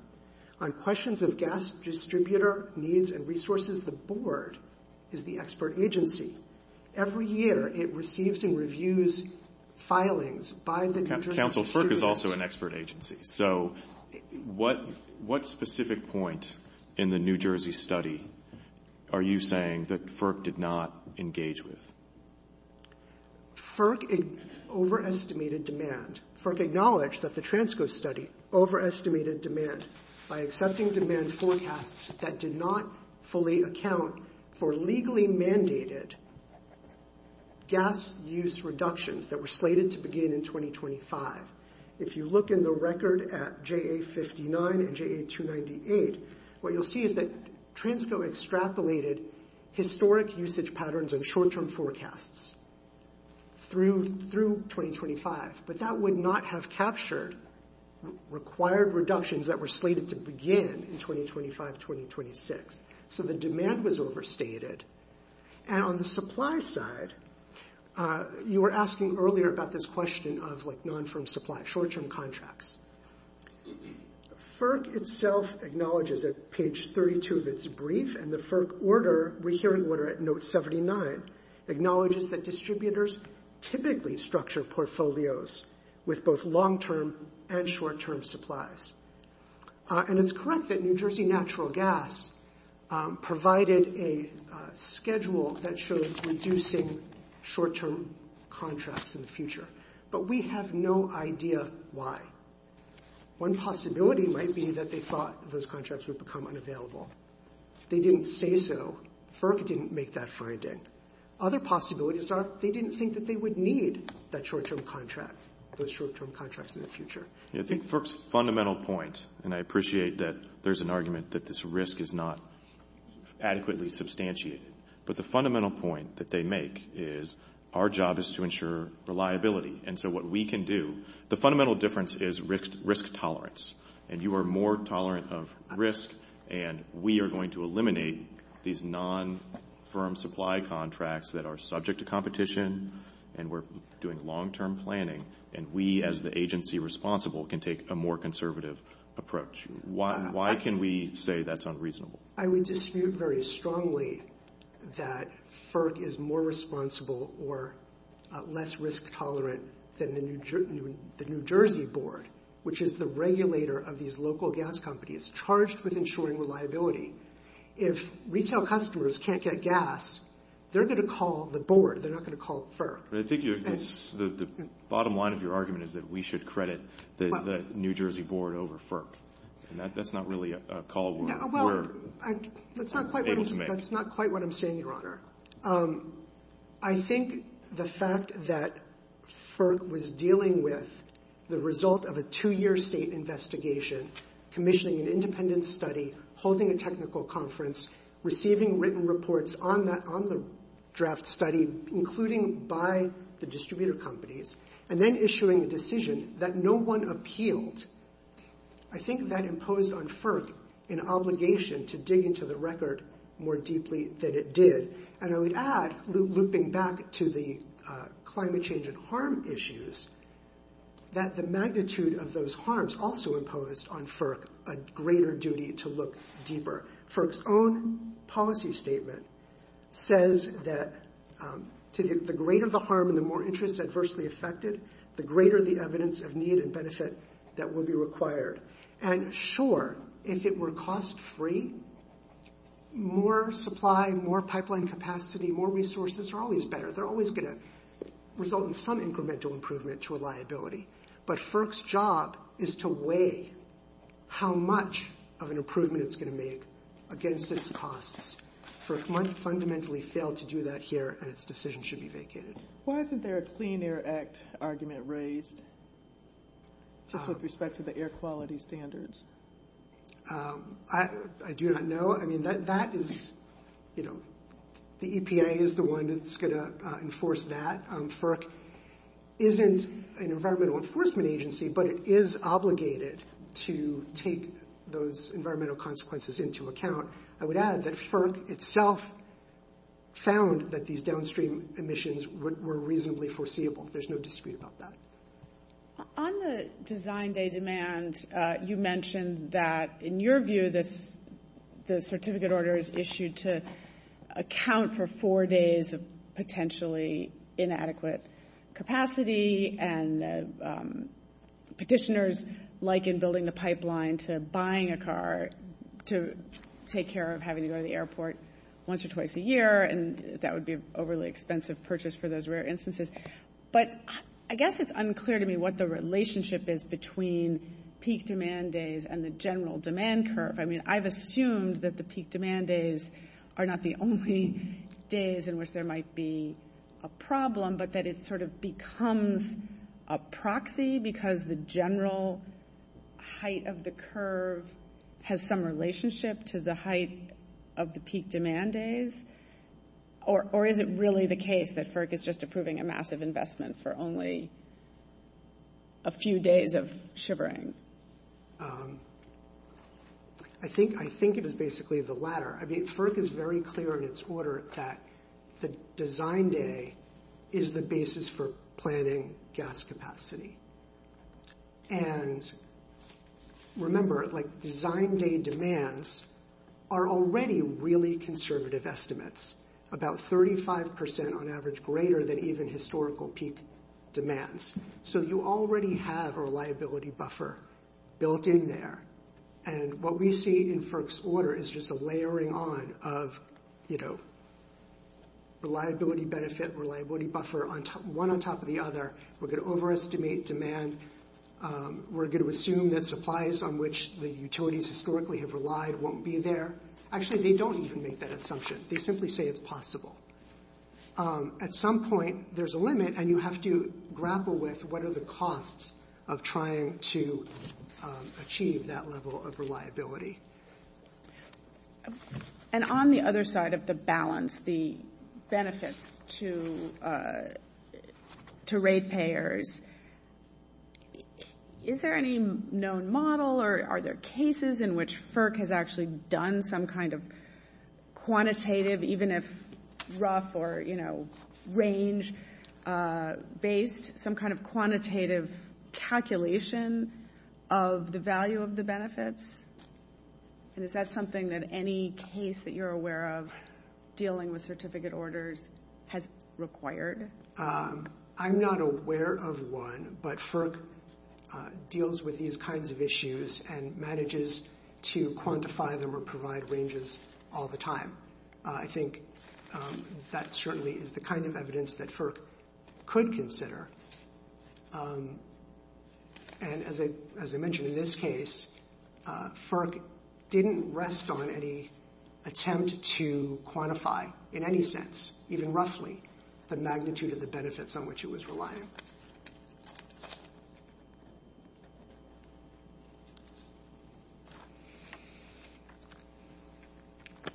On questions of gas distributor needs and resources, the board is the expert agency. Every year it receives and reviews filings by the New Jersey distributor. Council, FERC is also an expert agency. So what specific point in the New Jersey study are you saying that FERC did not engage with? FERC overestimated demand. FERC acknowledged that the Transco study overestimated demand by accepting demand forecasts that did not fully account for legally mandated gas use reductions that were slated to begin in 2025. If you look in the record at JA59 and JA298, what you'll see is that Transco extrapolated historic usage patterns and short-term forecasts through 2025, but that would not have captured required reductions that were slated to begin in 2025, 2026. So the demand was overstated. And on the supply side, you were asking earlier about this question of non-firm supply, short-term contracts. FERC itself acknowledges at page 32 of its brief and the FERC order, we're hearing order at note 79, acknowledges that distributors typically structure portfolios with both long-term and short-term supplies. And it's correct that New Jersey Natural Gas provided a schedule that showed reducing short-term contracts in the future, but we have no idea why. One possibility might be that they thought those contracts would become unavailable. They didn't say so. FERC didn't make that finding. Other possibilities are they didn't think that they would need that short-term contract, those short-term contracts in the future. I think FERC's fundamental point, and I appreciate that there's an argument that this risk is not adequately substantiated, but the fundamental point that they make is our job is to ensure reliability. And so what we can do, the fundamental difference is risk tolerance, and you are more tolerant of risk and we are going to eliminate these non-firm supply contracts that are subject to competition and we're doing long-term planning, and we as the agency responsible can take a more conservative approach. Why can we say that's unreasonable? I would dispute very strongly that FERC is more responsible or less risk tolerant than the New Jersey board, which is the regulator of these local gas companies, charged with ensuring reliability. If retail customers can't get gas, they're going to call the board. They're not going to call FERC. I think the bottom line of your argument is that we should credit the New Jersey board over FERC, and that's not really a call we're able to make. That's not quite what I'm saying, Your Honor. I think the fact that FERC was dealing with the result of a two-year state investigation, commissioning an independent study, holding a technical conference, receiving written reports on the draft study, including by the distributor companies, and then issuing a decision that no one appealed, I think that imposed on FERC an obligation to dig into the record more deeply than it did. And I would add, looping back to the climate change and harm issues, that the magnitude of those harms also imposed on FERC a greater duty to look deeper. FERC's own policy statement says that the greater the harm and the more interest adversely affected, the greater the evidence of need and benefit that will be required. And sure, if it were cost-free, more supply, more pipeline capacity, more resources are always better. They're always going to result in some incremental improvement to a liability. But FERC's job is to weigh how much of an improvement it's going to make against its costs. FERC fundamentally failed to do that here, and its decision should be vacated. Why isn't there a Clean Air Act argument raised with respect to the air quality standards? I do not know. I mean, that is, you know, the EPA is the one that's going to enforce that. FERC isn't an environmental enforcement agency, but it is obligated to take those environmental consequences into account. I would add that FERC itself found that these downstream emissions were reasonably foreseeable. There's no dispute about that. On the design day demand, you mentioned that, in your view, the certificate order is issued to account for four days of potentially inadequate capacity, and petitioners liken building the pipeline to buying a car to take care of having to go to the airport once or twice a year, and that would be an overly expensive purchase for those rare instances. But I guess it's unclear to me what the relationship is between peak demand days and the general demand curve. I mean, I've assumed that the peak demand days are not the only days in which there might be a problem, but that it sort of becomes a proxy because the general height of the curve has some relationship to the height of the peak demand days. Or is it really the case that FERC is just approving a massive investment for only a few days of shivering? I think it is basically the latter. I mean, FERC is very clear in its order that the design day is the basis for planning gas capacity. And remember, design day demands are already really conservative estimates, about 35% on average greater than even historical peak demands. So you already have a reliability buffer built in there, and what we see in FERC's order is just a layering on of reliability benefit, reliability buffer, one on top of the other. We're going to overestimate demand. We're going to assume that supplies on which the utilities historically have relied won't be there. Actually, they don't even make that assumption. They simply say it's possible. At some point, there's a limit, and you have to grapple with what are the costs of trying to achieve that level of reliability. And on the other side of the balance, the benefits to rate payers, is there any known model or are there cases in which FERC has actually done some kind of quantitative, even if rough or range-based, some kind of quantitative calculation of the value of the benefits? And is that something that any case that you're aware of dealing with certificate orders has required? I'm not aware of one, but FERC deals with these kinds of issues and manages to quantify them or provide ranges all the time. I think that certainly is the kind of evidence that FERC could consider. And as I mentioned, in this case, FERC didn't rest on any attempt to quantify, in any sense, even roughly, the magnitude of the benefits on which it was reliant.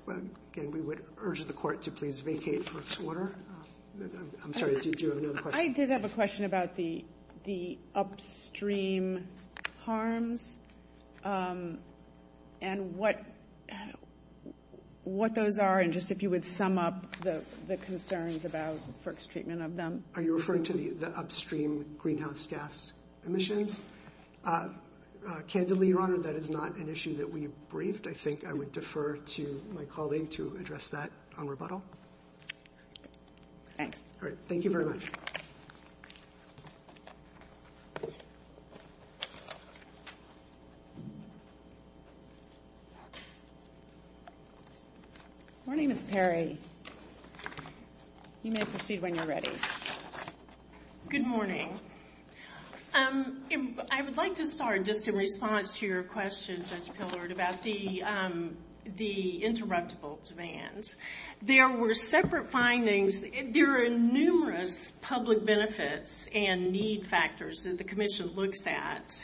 Again, we would urge the court to please vacate FERC's order. I'm sorry, did you have another question? I did have a question about the upstream harms and what those are, and just if you would sum up the concerns about FERC's treatment of them. Are you referring to the upstream greenhouse gas emissions? Candidly, Your Honor, that is not an issue that we've briefed. I think I would defer to my colleague to address that on rebuttal. Thank you very much. Good morning, Ms. Perry. You may proceed when you're ready. Good morning. I would like to start just in response to your question, about the interruptible demands. There were separate findings. There are numerous public benefits and need factors that the Commission looked at.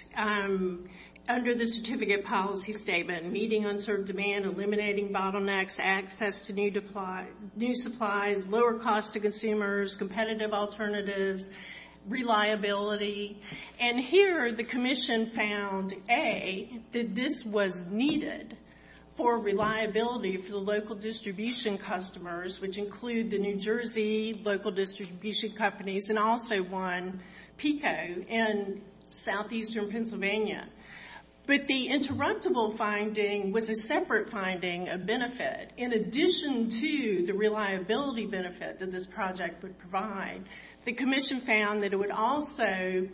Under the Certificate Policy Statement, meeting unserved demand, eliminating bottlenecks, access to new supplies, lower cost to consumers, competitive alternatives, reliability. And here the Commission found, A, that this was needed for reliability for the local distribution customers, which include the New Jersey local distribution companies and also one, PICO, in southeastern Pennsylvania. But the interruptible finding was a separate finding of benefit. In addition to the reliability benefit that this project would provide, the Commission found that it would also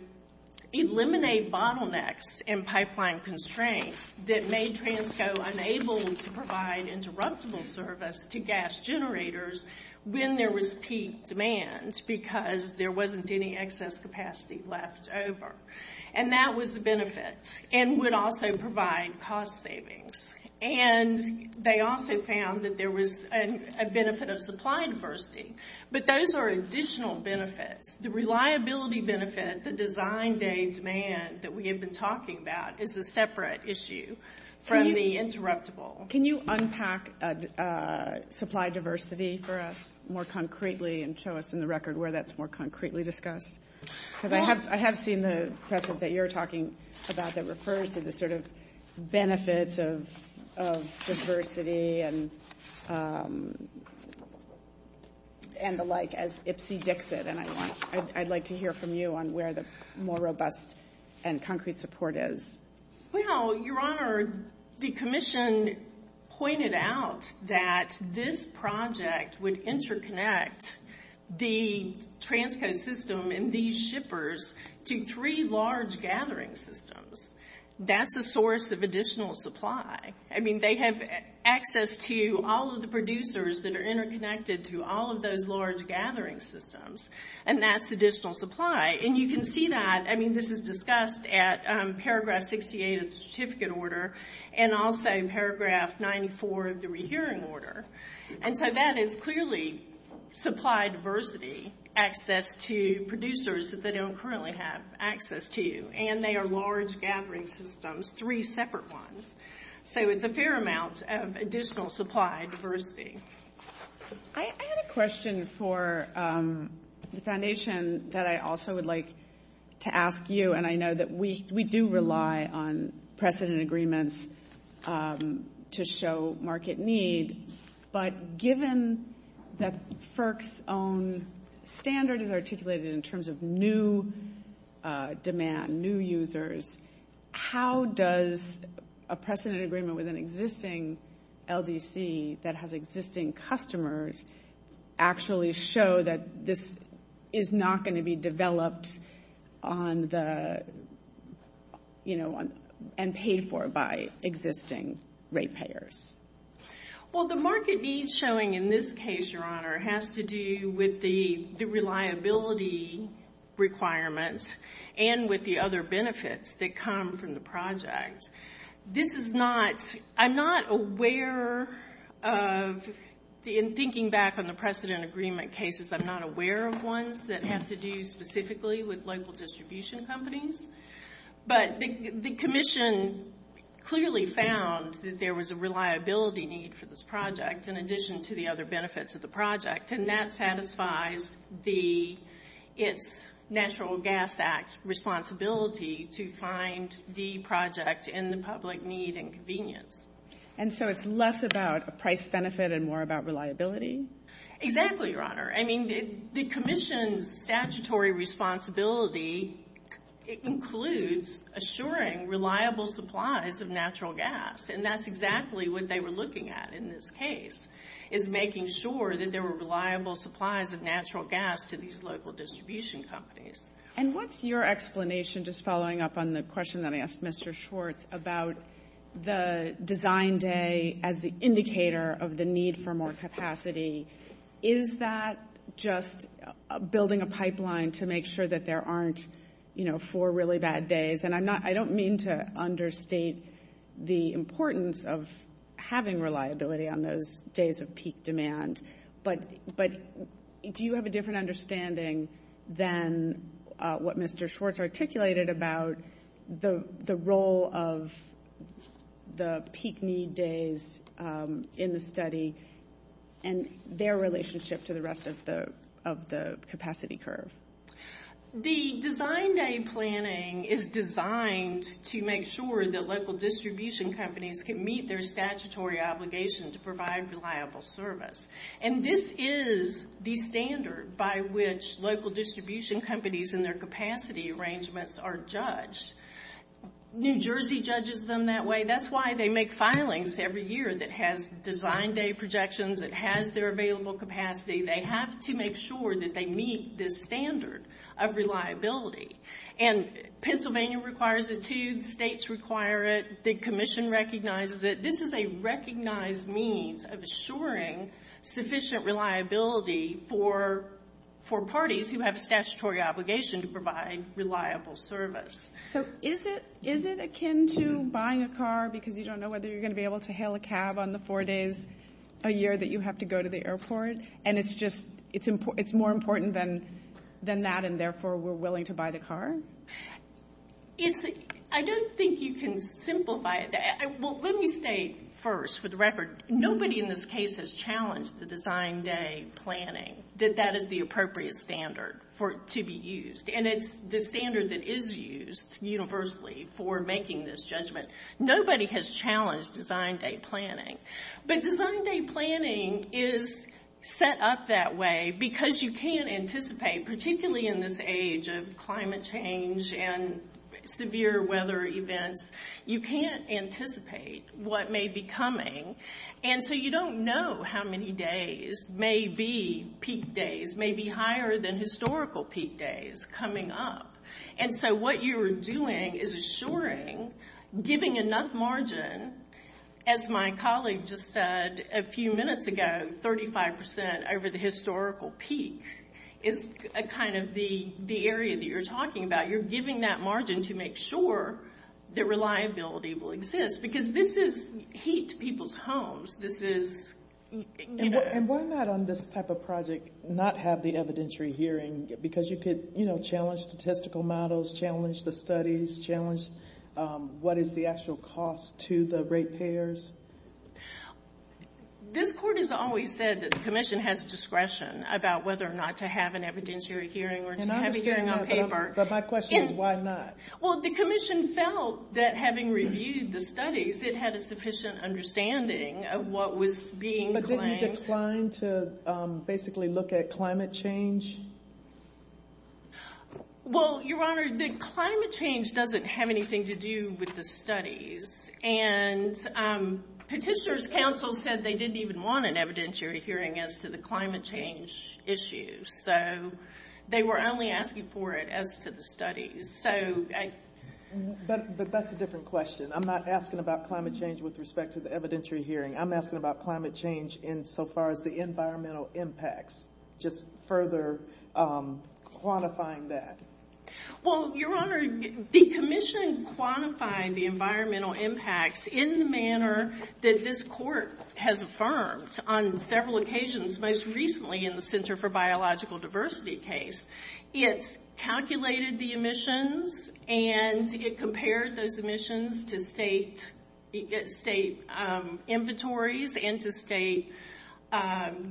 eliminate bottlenecks and pipeline constraints that made Transco unable to provide interruptible service to gas generators when there was peak demand because there wasn't any excess capacity left over. And that was a benefit and would also provide cost savings. And they also found that there was a benefit of supply diversity. But those are additional benefits. The reliability benefit, the design day demand that we have been talking about, is a separate issue from the interruptible. Can you unpack supply diversity for us more concretely and show us in the record where that's more concretely discussed? Because I have seen the packet that you're talking about that refers to the sort of I'd like to hear from you on where the more robust and concrete support is. Well, Your Honor, the Commission pointed out that this project would interconnect the Transco system and these shippers to three large gathering systems. That's a source of additional supply. I mean, they have access to all of the producers that are interconnected through all of those large gathering systems. And that's additional supply. And you can see that. I mean, this is discussed at paragraph 68 of the certificate order and also in paragraph 94 of the rehearing order. And so that is clearly supply diversity, access to producers that don't currently have access to you. And they are large gathering systems, three separate ones. So it's a fair amount of additional supply diversity. I had a question for the Foundation that I also would like to ask you, and I know that we do rely on precedent agreements to show market needs. But given that FERC's own standard is articulated in terms of new demand, new users, how does a precedent agreement with an existing LDC that has existing customers actually show that this is not going to be developed and paid for by existing rate payers? Well, the market needs showing in this case, Your Honor, has to do with the reliability requirements and with the other benefits that come from the project. This is not – I'm not aware of – in thinking back on the precedent agreement cases, I'm not aware of ones that have to do specifically with local distribution companies. But the Commission clearly found that there was a reliability need for this project in addition to the other benefits of the project, and that satisfies the Natural Gas Act's responsibility to find the project in the public need and convenience. And so it's less about price benefit and more about reliability? Exactly, Your Honor. I mean, the Commission's statutory responsibility includes assuring reliable supplies of natural gas, and that's exactly what they were looking at in this case, is making sure that there were reliable supplies of natural gas to these local distribution companies. And what's your explanation, just following up on the question that I asked Mr. Schwartz, about the design day as the indicator of the need for more capacity? Is that just building a pipeline to make sure that there aren't, you know, four really bad days? And I don't mean to understate the importance of having reliability on those days of peak demand, but do you have a different understanding than what Mr. Schwartz articulated about the role of the peak need days in the study and their relationship to the rest of the capacity curve? The design day planning is designed to make sure that local distribution companies can meet their statutory obligations to provide reliable service. And this is the standard by which local distribution companies and their capacity arrangements are judged. New Jersey judges them that way. That's why they make filings every year that has design day projections, that has their available capacity. They have to make sure that they meet this standard of reliability. And Pennsylvania requires it too. The states require it. The commission recognizes it. This is a recognized need of assuring sufficient reliability for parties who have a statutory obligation to provide reliable service. So is it akin to buying a car because you don't know whether you're going to be able to hail a cab on the four days a year that you have to go to the airport? And it's more important than that and, therefore, we're willing to buy the car? I don't think you can simplify it. Let me say first, for the record, nobody in this case has challenged the design day planning, that that is the appropriate standard to be used. And it's the standard that is used universally for making this judgment. Nobody has challenged design day planning. But design day planning is set up that way because you can't anticipate, particularly in this age of climate change and severe weather events, you can't anticipate what may be coming. And so you don't know how many days may be peak days, may be higher than historical peak days coming up. And so what you're doing is assuring, giving enough margin, as my colleague just said a few minutes ago, 35% over the historical peak is kind of the area that you're talking about. You're giving that margin to make sure that reliability will exist because this is heat to people's homes. And why not on this type of project not have the evidentiary hearing? Because you could, you know, challenge statistical models, challenge the studies, challenge what is the actual cost to the rate payers. This court has always said that the commission has discretion about whether or not to have an evidentiary hearing or to have a hearing on paper. But my question is why not? Well, the commission felt that having reviewed the studies, it had a sufficient understanding of what was being claimed. Are you trying to basically look at climate change? Well, Your Honor, the climate change doesn't have anything to do with the studies. And Petitioner's Council said they didn't even want an evidentiary hearing as to the climate change issues. So they were only asking for it as to the studies. But that's a different question. I'm not asking about climate change with respect to the evidentiary hearing. I'm asking about climate change insofar as the environmental impacts, just further quantifying that. Well, Your Honor, the commission quantified the environmental impacts in the manner that this court has affirmed on several occasions, most recently in the Center for Biological Diversity case. It calculated the emissions and it compared those emissions to state inventories and to state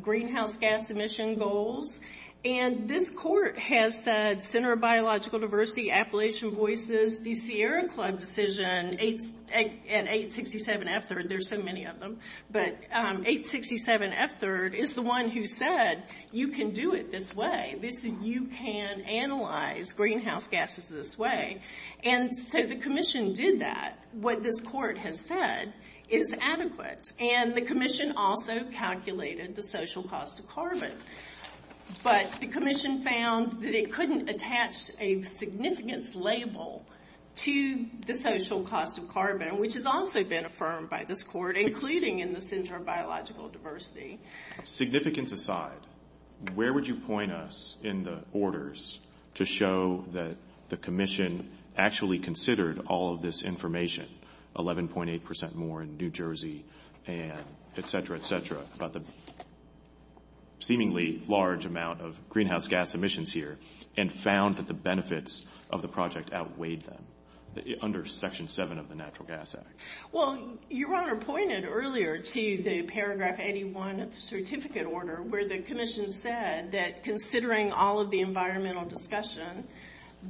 greenhouse gas emission goals. And this court has said Center for Biological Diversity, Appalachian Voices, the Sierra Club decision, and 867 F-3rd, there's so many of them. But 867 F-3rd is the one who said you can do it this way. You can analyze greenhouse gases this way. And so the commission did that. What this court has said is adequate. And the commission also calculated the social cost of carbon. But the commission found that it couldn't attach a significance label to the social cost of carbon, which has also been affirmed by this court, including in the Center for Biological Diversity. Significance aside, where would you point us in the orders to show that the commission actually considered all of this information, 11.8% more in New Jersey, et cetera, et cetera, about the seemingly large amount of greenhouse gas emissions here and found that the benefits of the project outweighed them under Section 7 of the Natural Gas Act? Well, Your Honor pointed earlier to the paragraph 81 of the certificate order where the commission said that considering all of the environmental discussion,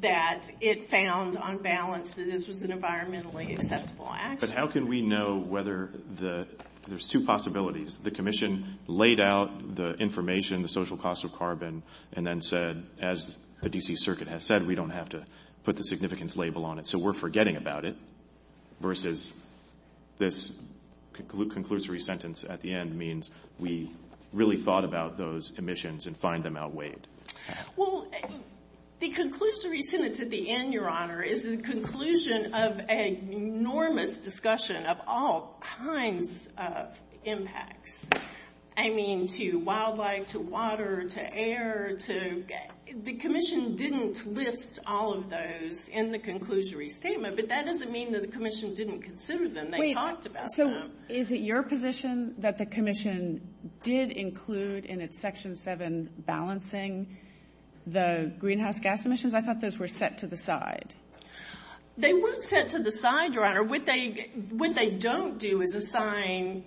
that it found on balance that this was an environmentally accessible action. But how can we know whether the – there's two possibilities. The commission laid out the information, the social cost of carbon, and then said, as the D.C. Circuit has said, we don't have to put the significance label on it. And so we're forgetting about it versus this conclusory sentence at the end means we really thought about those emissions and find them outweighed. Well, the conclusory sentence at the end, Your Honor, is the conclusion of an enormous discussion of all kinds of impacts. I mean, to wildlife, to water, to air, to – the commission didn't list all of those in the conclusory statement, but that doesn't mean that the commission didn't consider them. They talked about them. So is it your position that the commission did include in its Section 7 balancing the greenhouse gas emissions? I thought those were set to the side. They were set to the side, Your Honor. What they don't do is assign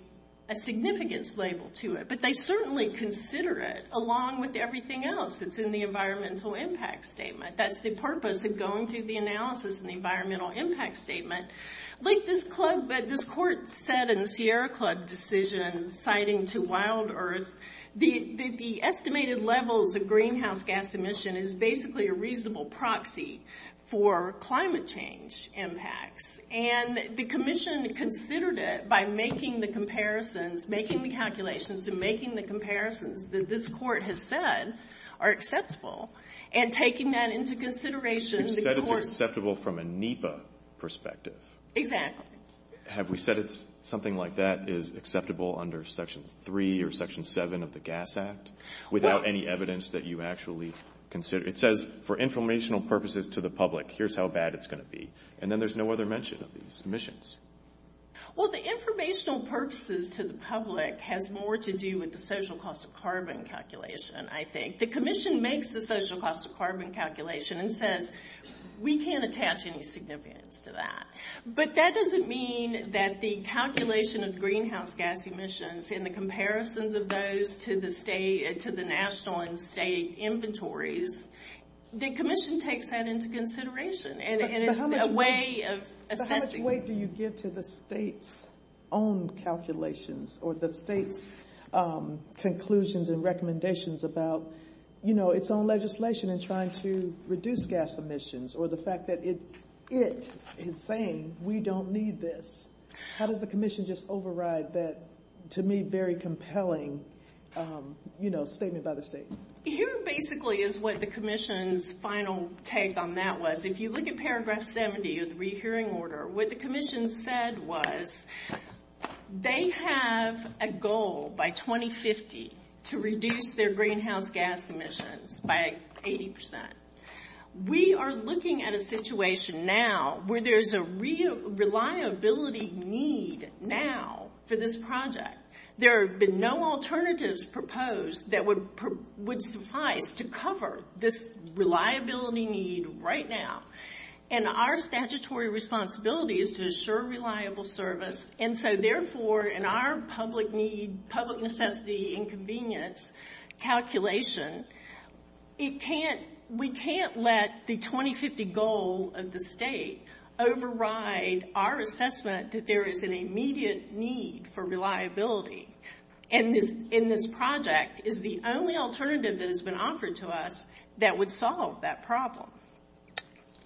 a significance label to it, but they certainly consider it along with everything else that's in the environmental impact statement. That's the purpose of going through the analysis in the environmental impact statement. Like this court said in the Sierra Club decision citing to Wild Earth, the estimated level of the greenhouse gas emission is basically a reasonable proxy for climate change impacts. And the commission considered it by making the comparisons, making the calculations and making the comparisons that this court has said are acceptable and taking that into consideration. Except it's acceptable from a NEPA perspective. Exactly. Have we said something like that is acceptable under Section 3 or Section 7 of the Gas Act without any evidence that you actually consider? It says, for informational purposes to the public, here's how bad it's going to be. And then there's no other mention of these emissions. Well, the informational purposes to the public has more to do with the social cost of carbon calculation, I think. The commission makes the social cost of carbon calculation and says, we can't attach any significance to that. But that doesn't mean that the calculation of greenhouse gas emissions and the comparisons of those to the national and state inventories, the commission takes that into consideration. How much weight do you give to the state's own calculations or the state's conclusions and recommendations about its own legislation in trying to reduce gas emissions or the fact that it is saying we don't need this? How does the commission just override that, to me, very compelling statement by the state? Here basically is what the commission's final take on that was. If you look at Paragraph 70 of the rehearing order, what the commission said was they have a goal by 2050 to reduce their greenhouse gas emissions by 80%. We are looking at a situation now where there's a reliability need now for this project. There have been no alternatives proposed that would suffice to cover this reliability need right now. And our statutory responsibility is to assure reliable service. And so, therefore, in our public necessity and convenience calculation, we can't let the 2050 goal of the state override our assessment that there is an immediate need for reliability. And this project is the only alternative that has been offered to us that would solve that problem.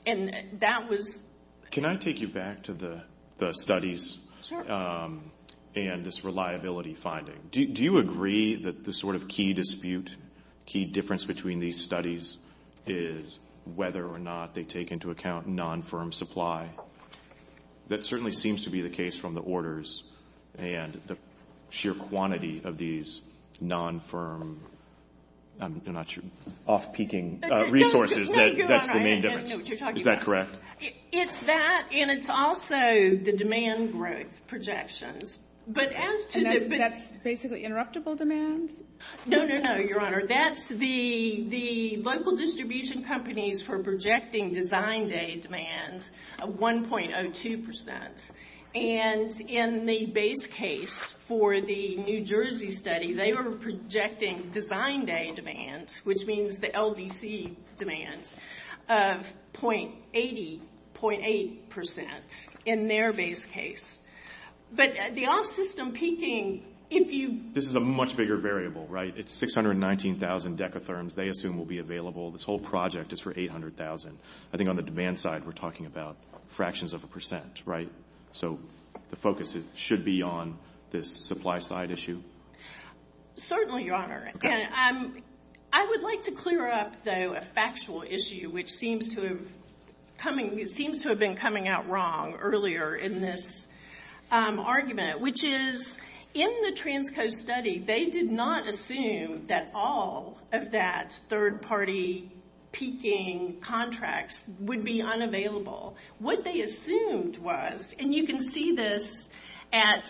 And that was... Can I take you back to the studies and this reliability finding? Do you agree that the sort of key dispute, key difference between these studies is whether or not they take into account non-firm supply? That certainly seems to be the case from the orders and the sheer quantity of these non-firm, I'm not sure, off-peaking resources, that's the main difference. Is that correct? It's that, and it's also the demand projections. But as to the... That's basically interruptible demand? No, no, no, Your Honor. That's the local distribution companies for projecting design day demand of 1.02%. And in the base case for the New Jersey study, they were projecting design day demand, which means the LDC demand, of .80, .80% in their base case. But the off-system peaking, if you... This is a much bigger variable, right? It's 619,000 decatherms they assume will be available. This whole project is for 800,000. I think on the demand side, we're talking about fractions of a percent, right? So the focus should be on this supply side issue? Certainly, Your Honor. I would like to clear up, though, a factual issue, which seems to have been coming out wrong earlier in this argument, which is in the Transco study, they did not assume that all of that third-party peaking contracts would be unavailable. What they assumed was, and you can see this at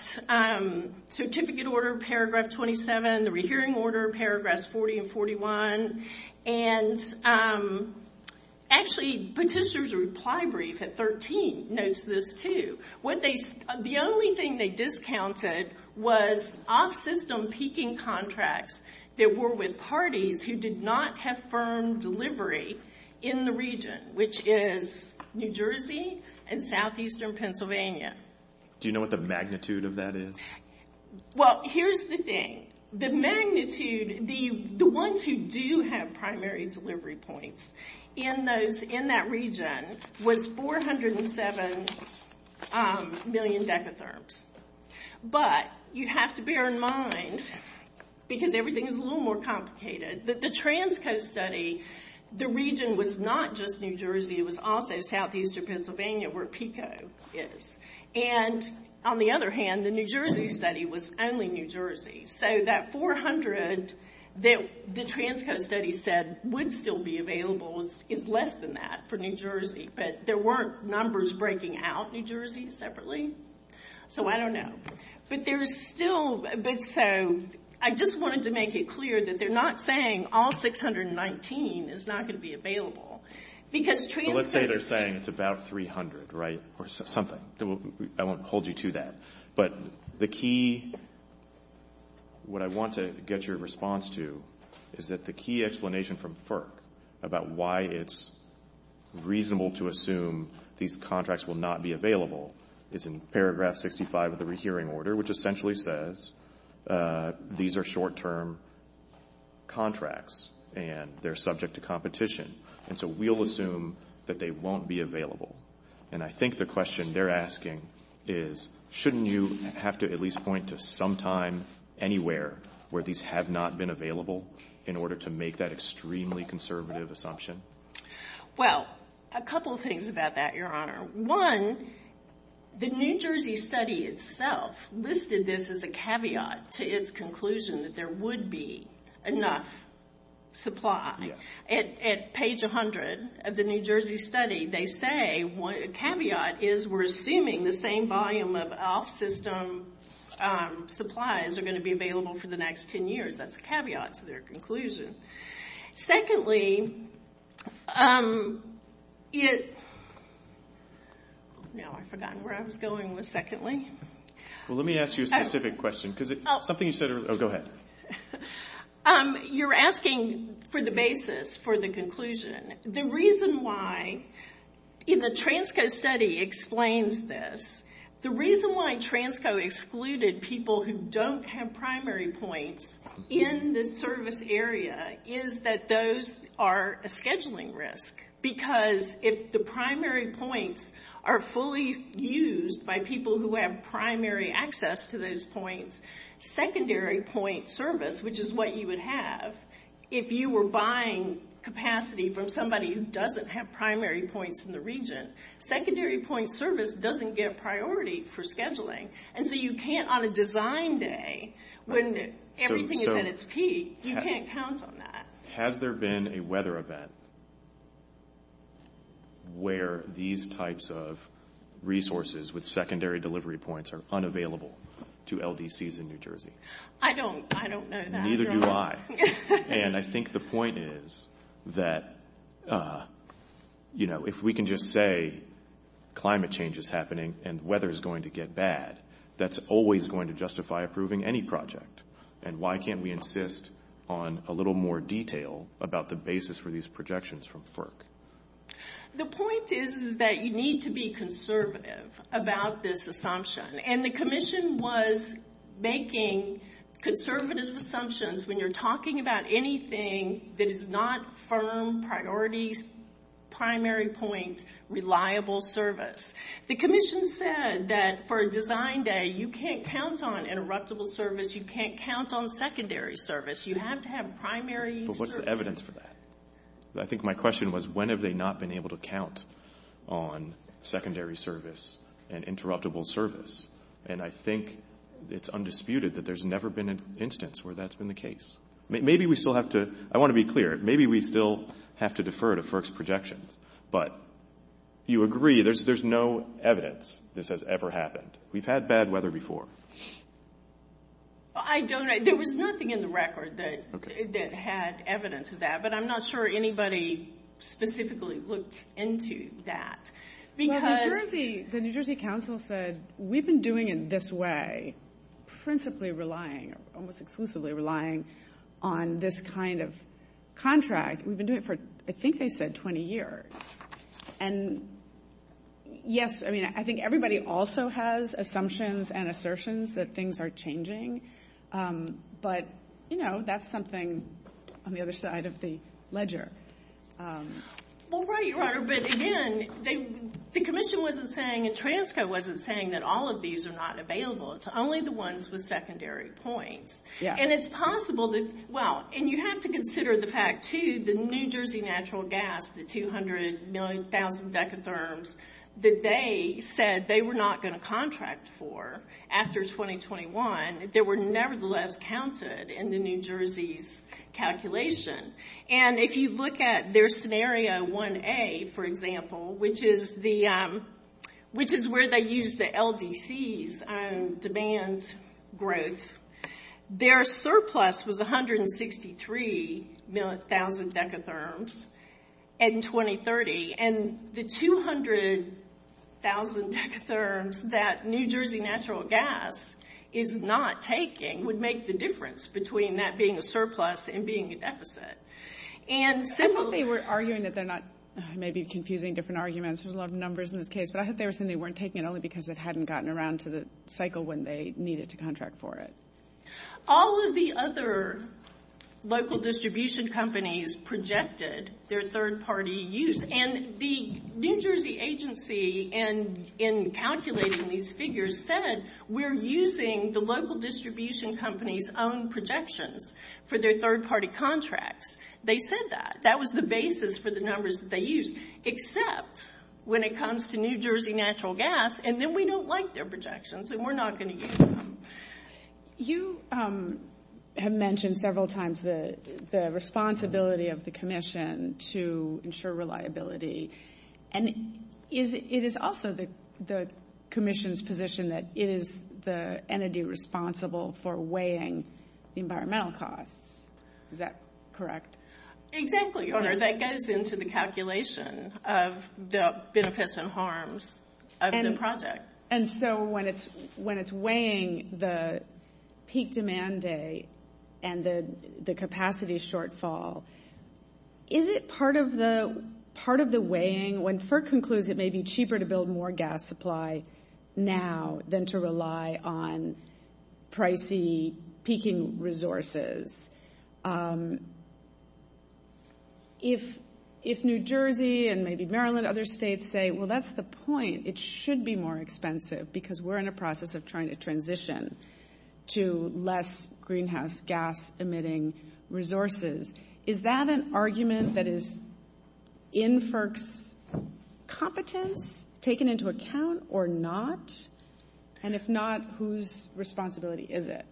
Certificate Order, Paragraph 27, the Rehearing Order, Paragraphs 40 and 41, and actually Petitioner's Reply Brief at 13 notes this, too. The only thing they discounted was off-system peaking contracts that were with parties who did not have firm delivery in the region, which is New Jersey and southeastern Pennsylvania. Do you know what the magnitude of that is? Well, here's the thing. The magnitude, the ones who do have primary delivery points in that region, was 407 million decatherms. But you have to bear in mind, because everything is a little more complicated, that the Transco study, the region was not just New Jersey. It was also southeastern Pennsylvania where PECO is. And on the other hand, the New Jersey study was only New Jersey. So that 400 that the Transco study said would still be available is less than that for New Jersey. But there weren't numbers breaking out New Jersey separately. So I don't know. But there is still a bit, so I just wanted to make it clear that they're not saying all 619 is not going to be available. So let's say they're saying it's about 300, right, or something. I won't hold you to that. But the key, what I want to get your response to, is that the key explanation from FERC about why it's reasonable to assume these contracts will not be available is in paragraph 65 of the rehearing order, which essentially says these are short-term contracts and they're subject to competition. And so we'll assume that they won't be available. And I think the question they're asking is, shouldn't you have to at least point to some time anywhere where these have not been available in order to make that extremely conservative assumption? Well, a couple of things about that, Your Honor. One, the New Jersey study itself listed this as a caveat to its conclusion that there would be enough supply. At page 100 of the New Jersey study, they say a caveat is we're assuming the same volume of ALF system supplies are going to be available for the next 10 years. That's a caveat to their conclusion. Secondly, it's – now I've forgotten where I was going with secondly. Well, let me ask you a specific question. Something you said earlier. Oh, go ahead. You're asking for the basis, for the conclusion. The reason why the Transco study explains this, the reason why Transco excluded people who don't have primary points in the service area is that those are a scheduling risk. Because if the primary points are fully used by people who have primary access to those points, secondary point service, which is what you would have, if you were buying capacity from somebody who doesn't have primary points in the region, secondary point service doesn't get priority for scheduling. And so you can't, on a design day, when everything is at its peak, you can't count on that. Has there been a weather event where these types of resources with secondary delivery points are unavailable to LDCs in New Jersey? I don't know that. Neither do I. And I think the point is that, you know, if we can just say climate change is happening and weather is going to get bad, that's always going to justify approving any project. And why can't we insist on a little more detail about the basis for these projections from FERC? The point is that you need to be conservative about this assumption. And the commission was making conservative assumptions when you're talking about anything that is not firm, priority, primary point, reliable service. The commission said that for a design day, you can't count on interruptible service, you can't count on secondary service. You have to have primary service. So what's the evidence for that? I think my question was when have they not been able to count on secondary service and interruptible service? And I think it's undisputed that there's never been an instance where that's been the case. Maybe we still have to, I want to be clear, maybe we still have to defer to FERC's projections. But you agree there's no evidence this has ever happened. We've had bad weather before. I don't know. There was nothing in the record that had evidence of that. But I'm not sure anybody specifically looked into that. The New Jersey Council said we've been doing it this way, principally relying, almost exclusively relying on this kind of contract. We've been doing it for, I think they said 20 years. And, yes, I mean I think everybody also has assumptions and assertions that things are changing. But, you know, that's something on the other side of the ledger. Well, right, your Honor. But, again, the commission wasn't saying and TRANSCO wasn't saying that all of these are not available. It's only the ones with secondary points. And it's possible that, well, and you have to consider the fact, too, the New Jersey natural gas, the 200 million thousand decatherms, that they said they were not going to contract for after 2021, they were nevertheless counted in the New Jersey's calculation. And if you look at their scenario 1A, for example, which is where they used the LDCs on demand growth, their surplus was 163,000 decatherms in 2030. And the 200,000 decatherms that New Jersey natural gas is not taking would make the difference between that being a surplus and being a deficit. And simply we're arguing that they're not, maybe confusing different arguments, there's a lot of numbers in this case, but I hope they were saying they weren't taking it only because it hadn't gotten around to the cycle when they needed to contract for it. All of the other local distribution companies projected their third-party use. And the New Jersey agency, in calculating these figures, said we're using the local distribution company's own projections for their third-party contracts. They said that. That was the basis for the numbers that they used, except when it comes to New Jersey natural gas, and then we don't like their projections and we're not going to use them. You have mentioned several times the responsibility of the commission to ensure reliability. And it is also the commission's position that it is the entity responsible for weighing environmental costs. Is that correct? Exactly. That gets into the calculation of the benefits and harms of the project. And so when it's weighing the peak demand day and the capacity shortfall, is it part of the weighing when FERC concludes it may be cheaper to build more gas supply now than to rely on pricey peaking resources? If New Jersey and maybe Maryland and other states say, well, that's the point, it should be more expensive because we're in a process of trying to transition to less greenhouse gas emitting resources. Is that an argument that is in FERC's competence taken into account or not? And if not, whose responsibility is it?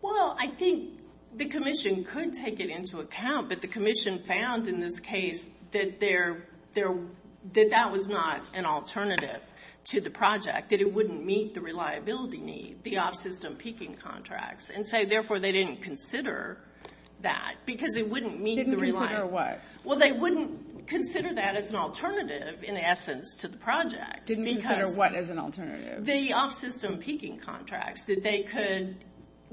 Well, I think the commission could take it into account, but the commission found in this case that that was not an alternative to the project, that it wouldn't meet the reliability need, the off-system peaking contracts, and say, therefore, they didn't consider that because it wouldn't meet the reliability. Didn't consider what? Well, they wouldn't consider that as an alternative, in essence, to the project. Didn't consider what as an alternative? The off-system peaking contracts, that they could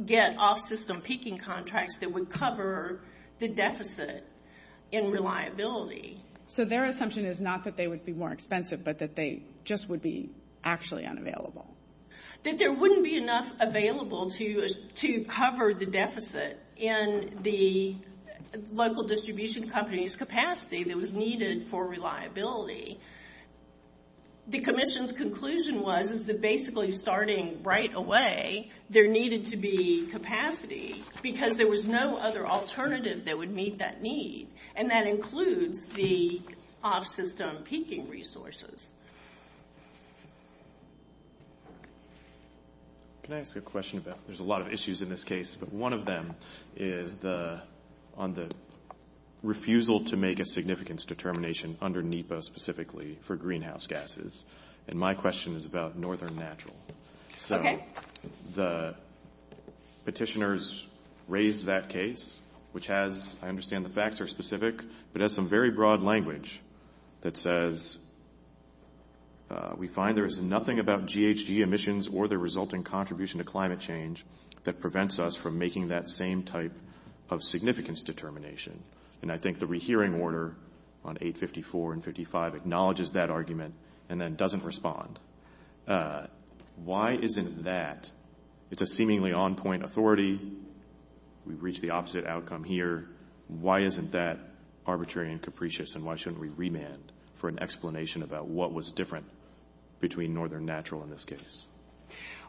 get off-system peaking contracts that would cover the deficit in reliability. So their assumption is not that they would be more expensive, but that they just would be actually unavailable. That there wouldn't be enough available to cover the deficit in the local distribution company's capacity that was needed for reliability. The commission's conclusion was that basically starting right away, there needed to be capacity because there was no other alternative that would meet that need, and that includes the off-system peaking resources. Can I ask a question about – there's a lot of issues in this case, but one of them is on the refusal to make a significance determination under NEPA specifically for greenhouse gases, and my question is about Northern Natural. So the petitioners raised that case, which has – it's very specific, but has some very broad language that says, we find there is nothing about GHG emissions or the resulting contribution to climate change that prevents us from making that same type of significance determination. And I think the rehearing order on 854 and 55 acknowledges that argument and then doesn't respond. Why isn't that – it's a seemingly on-point authority. We've reached the opposite outcome here. Why isn't that arbitrary and capricious, and why shouldn't we remand for an explanation about what was different between Northern Natural in this case?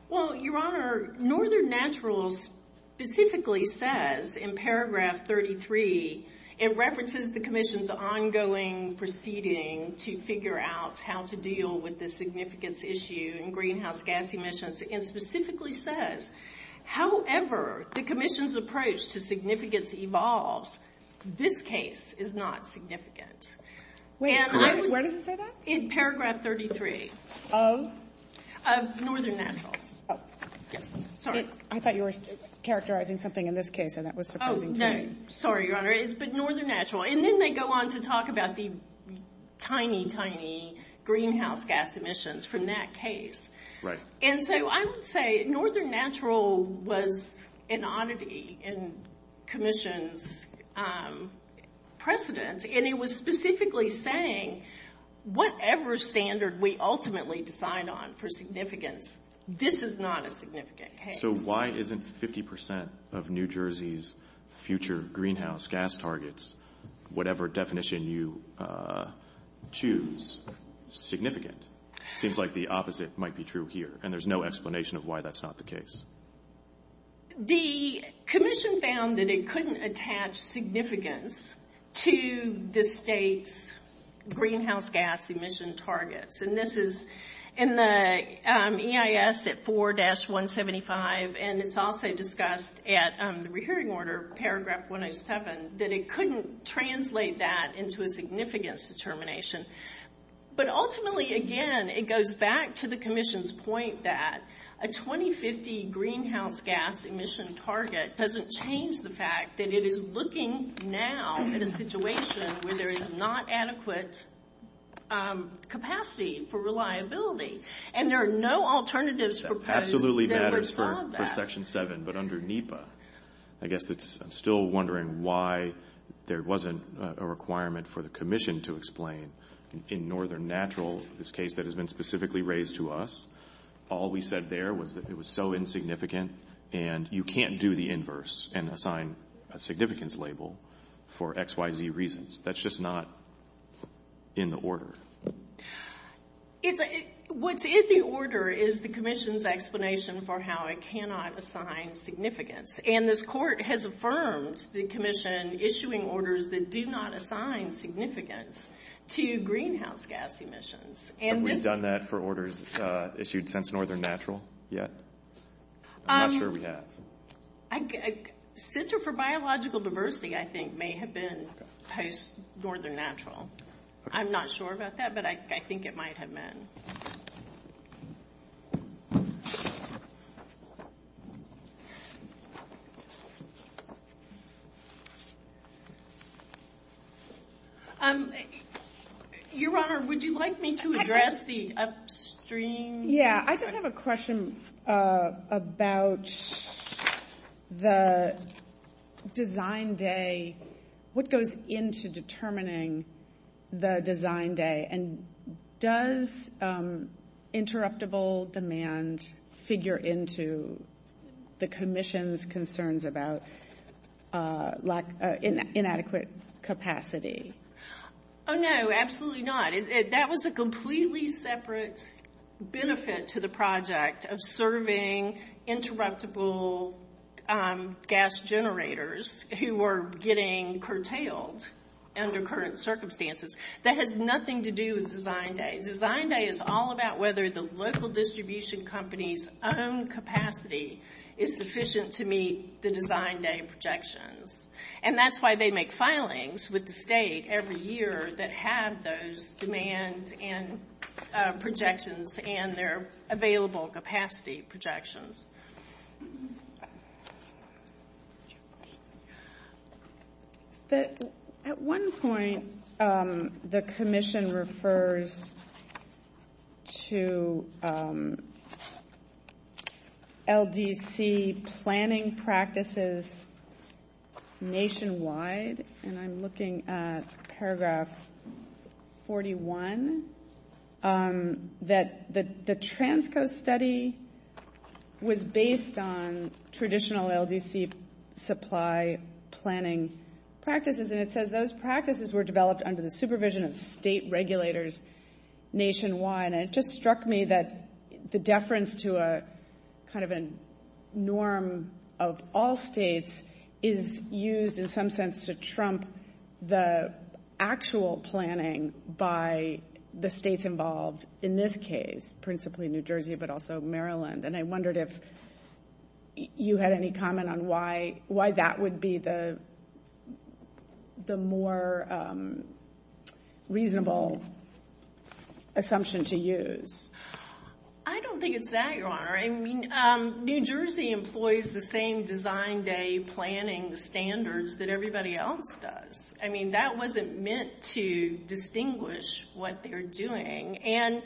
Well, Your Honor, Northern Natural specifically says in paragraph 33, it references the commission's ongoing proceeding to figure out how to deal with the significance issue in greenhouse gas emissions, and specifically says, However, the commission's approach to significance evolves. This case is not significant. Where does it say that? In paragraph 33. Of? Of Northern Natural. Sorry. I thought you were characterizing something in this case. Oh, no. Sorry, Your Honor. It's Northern Natural, and then they go on to talk about the tiny, tiny greenhouse gas emissions from that case. Right. And so I would say Northern Natural was an oddity in commission's precedent, and it was specifically saying whatever standard we ultimately decide on for significance, this is not a significant case. So why isn't 50% of New Jersey's future greenhouse gas targets, whatever definition you choose, significant? It seems like the opposite might be true here, and there's no explanation of why that's not the case. The commission found that it couldn't attach significance to the state's greenhouse gas emission targets, and this is in the EIS at 4-175, and it's also discussed at the rehearing order, paragraph 107, that it couldn't translate that into a significant determination. But ultimately, again, it goes back to the commission's point that a 2050 greenhouse gas emission target doesn't change the fact that it is looking now at a situation where there is not adequate capacity for reliability, and there are no alternatives proposed that respond to that. Absolutely matters for Section 7, but under NEPA, I guess I'm still wondering why there wasn't a requirement for the commission to explain. In Northern Natural, this case that has been specifically raised to us, all we said there was that it was so insignificant and you can't do the inverse and assign a significance label for X, Y, Z reasons. That's just not in the order. What is the order is the commission's explanation for how it cannot assign significance, and this court has affirmed the commission issuing orders that do not assign significance to greenhouse gas emissions. Have we done that for orders issued since Northern Natural yet? I'm not sure we have. Center for Biological Diversity, I think, may have been post-Northern Natural. I'm not sure about that, but I think it might have been. Your Honor, would you like me to address the upstream? Yeah, I just have a question about the design day, what goes into determining the design day, and does interruptible demand figure into the commission's concerns about inadequate capacity? Oh, no, absolutely not. That was a completely separate benefit to the project of serving interruptible gas generators who were getting curtailed under current circumstances. That had nothing to do with design day. Design day is all about whether the local distribution company's own capacity is sufficient to meet the design day projections, and that's why they make filings with the state every year that have those demands and projections and their available capacity projections. At one point, the commission refers to LDC planning practices nationwide, and I'm looking at paragraph 41, that the Transco study was based on traditional LDC supply planning practices, and it says those practices were developed under the supervision of state regulators nationwide, and it just struck me that the deference to a kind of a norm of all states is used in some sense to trump the actual planning by the states involved in this case, principally New Jersey but also Maryland, and I wondered if you had any comment on why that would be the more reasonable assumption to use. I don't think it's that, Your Honor. New Jersey employs the same design day planning standards that everybody else does. I mean, that wasn't meant to distinguish what they're doing, and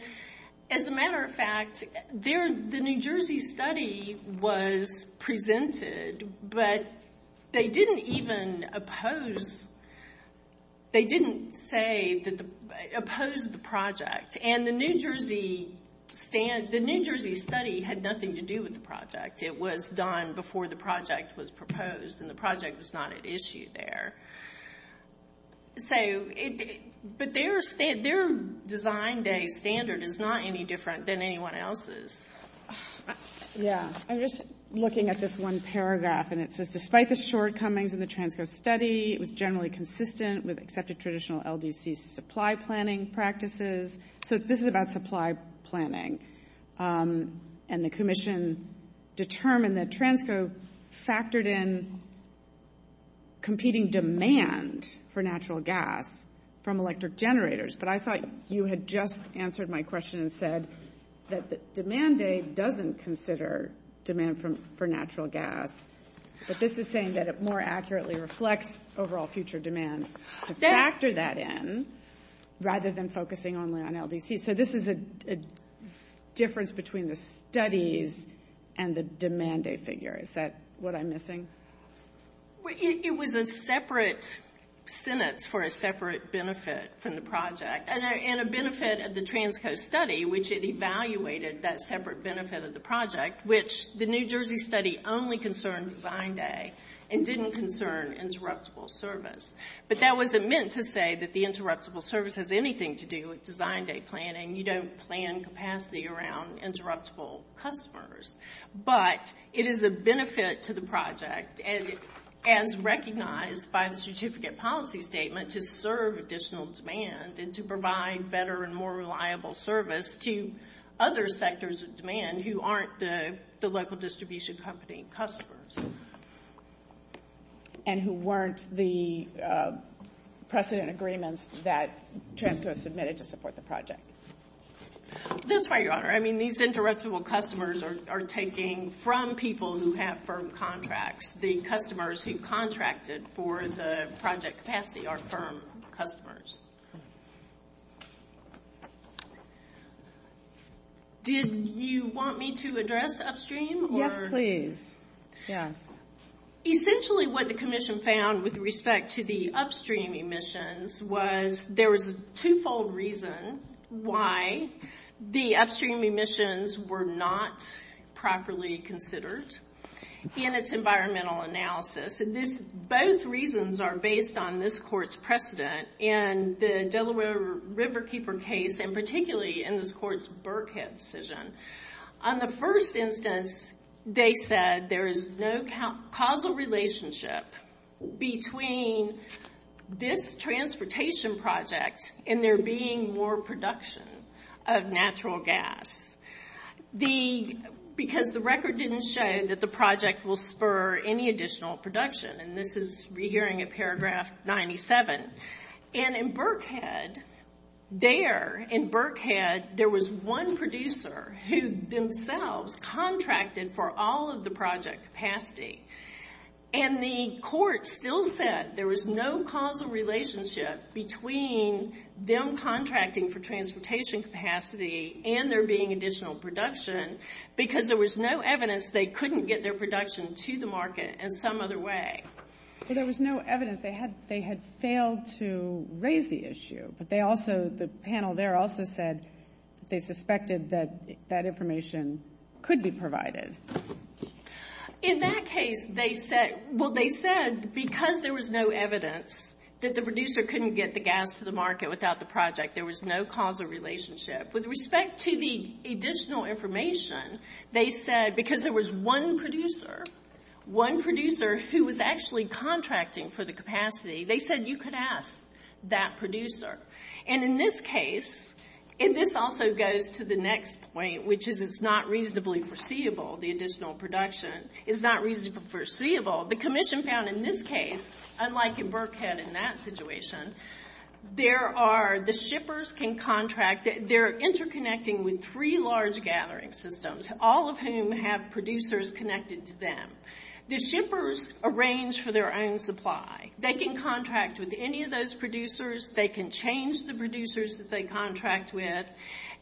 as a matter of fact, the New Jersey study was presented, but they didn't even oppose the project, and the New Jersey study had nothing to do with the project. It was done before the project was proposed, and the project was not at issue there, but their design day standard is not any different than anyone else's. Yeah, I'm just looking at this one paragraph, and it says despite the shortcomings in the Transco study, it was generally consistent with accepted traditional LDC supply planning practices. So this is about supply planning, and the commission determined that Transco factored in competing demand for natural gas from electric generators, but I thought you had just answered my question and said that the demand day doesn't consider demand for natural gas, but this is saying that it more accurately reflects overall future demand. To factor that in, rather than focusing only on LDC, so this is a difference between the studies and the demand day figure. Is that what I'm missing? It was a separate sentence for a separate benefit from the project, and a benefit of the Transco study, which it evaluated that separate benefit of the project, which the New Jersey study only concerned design day and didn't concern interruptible service, but that wasn't meant to say that the interruptible service has anything to do with design day planning. You don't plan capacity around interruptible customers, but it is a benefit to the project, and recognized by the certificate policy statement to serve additional demand and to provide better and more reliable service to other sectors of demand who aren't the local distribution company customers. And who weren't the precedent agreements that Transco submitted to support the project. That's right, Your Honor. I mean, these interruptible customers are taking from people who have firm contracts. The customers who contracted for the project capacity are firm customers. Did you want me to address upstream? Yes, please. Essentially what the commission found with respect to the upstream emissions was there was a two-fold reason why the upstream emissions were not properly considered. And it's environmental analysis. Both reasons are based on this court's precedent in the Delaware Riverkeeper case, and particularly in this court's Burkhead decision. On the first instance, they said there is no causal relationship between this transportation project and there being more production of natural gas. Because the record didn't show that the project will spur any additional production, and this is re-hearing of paragraph 97. And in Burkhead, there, in Burkhead, there was one producer who themselves contracted for all of the project capacity. And the court still said there was no causal relationship between them contracting for transportation capacity and there being additional production because there was no evidence they couldn't get their production to the market in some other way. There was no evidence. They had failed to raise the issue. But they also, the panel there also said they suspected that that information could be provided. In that case, they said, well, they said because there was no evidence that the producer couldn't get the gas to the market without the project, there was no causal relationship. With respect to the additional information, they said because there was one producer, one producer who was actually contracting for the capacity, they said you could ask that producer. And in this case, and this also goes to the next point, which is it's not reasonably foreseeable, the additional production is not reasonably foreseeable. So the commission found in this case, unlike in Burkhead in that situation, there are the shippers can contract, they're interconnecting with three large gathering systems, all of whom have producers connected to them. The shippers arrange for their own supply. They can contract with any of those producers. They can change the producers that they contract with.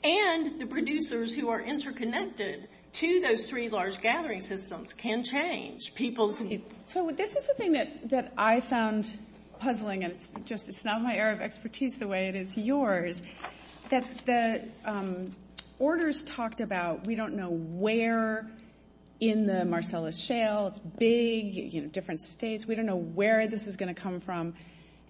And the producers who are interconnected to those three large gathering systems can change people's needs. So this is the thing that I found puzzling, and it's not my area of expertise the way it is yours, that the orders talked about we don't know where in the Marcellus Shale, big, different states, we don't know where this is going to come from.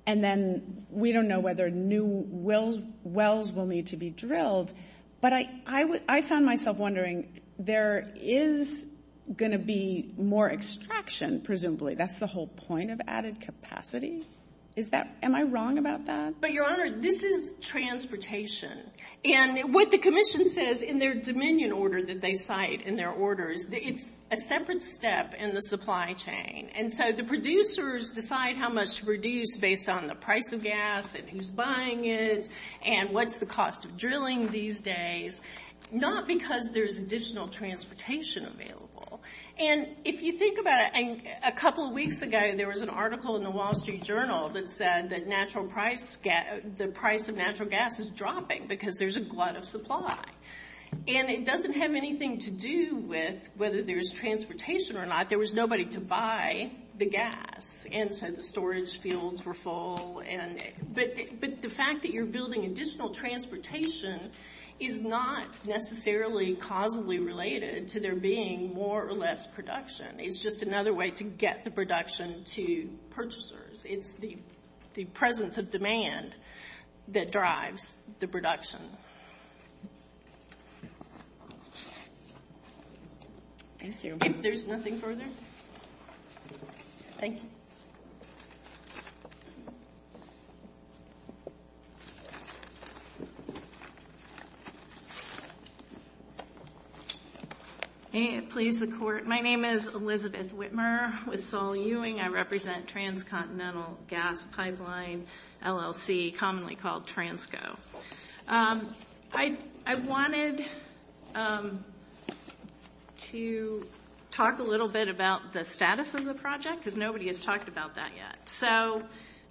And then we don't know whether new wells will need to be drilled. But I found myself wondering, there is going to be more extraction, presumably. That's the whole point of added capacity. Am I wrong about that? But, Your Honor, this is transportation. And what the commission says in their dominion order that they cite in their order, it's a separate step in the supply chain. And so the producers decide how much to produce based on the price of gas and who's buying it and what's the cost of drilling these days, not because there's additional transportation available. And if you think about it, a couple of weeks ago there was an article in the Wall Street Journal that said that the price of natural gas is dropping because there's a glut of supply. And it doesn't have anything to do with whether there's transportation or not. There was nobody to buy the gas and so the storage fields were full. But the fact that you're building additional transportation is not necessarily causally related to there being more or less production. It's just another way to get the production to purchasers. It's the presence of demand that drives the production. If there's nothing further, thank you. May it please the Court. My name is Elizabeth Whitmer with Saul Ewing. I represent Transcontinental Gas Pipeline, LLC, commonly called Transco. I wanted to talk a little bit about the status of the project because nobody has talked about that yet. So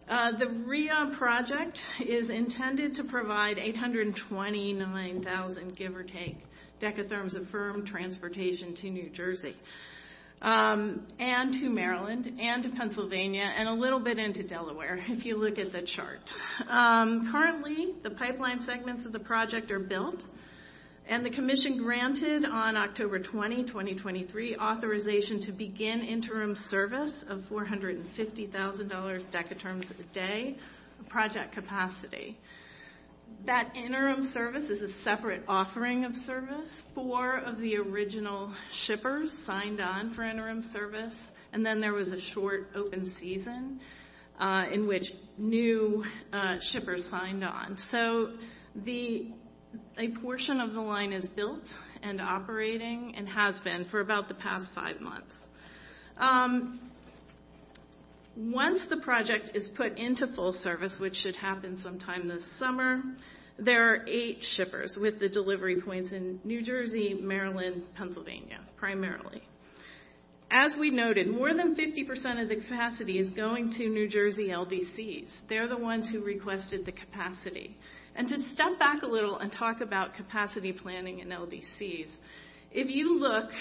the REIA project is intended to provide 829,000, give or take, decatherms of firm transportation to New Jersey and to Maryland and to Pennsylvania and a little bit into Delaware if you look at the chart. Currently, the pipeline segments of the project are built and the commission granted on October 20, 2023, authorization to begin interim service of $450,000 decatherms a day project capacity. That interim service is a separate offering of service. Four of the original shippers signed on for interim service and then there was a short open season in which new shippers signed on. So a portion of the line is built and operating and has been for about the past five months. Once the project is put into full service, which should happen sometime this summer, there are eight shippers with the delivery points in New Jersey, Maryland, Pennsylvania primarily. As we noted, more than 50% of the capacity is going to New Jersey LDCs. They're the ones who requested the capacity. And to step back a little and talk about capacity planning in LDCs, if you look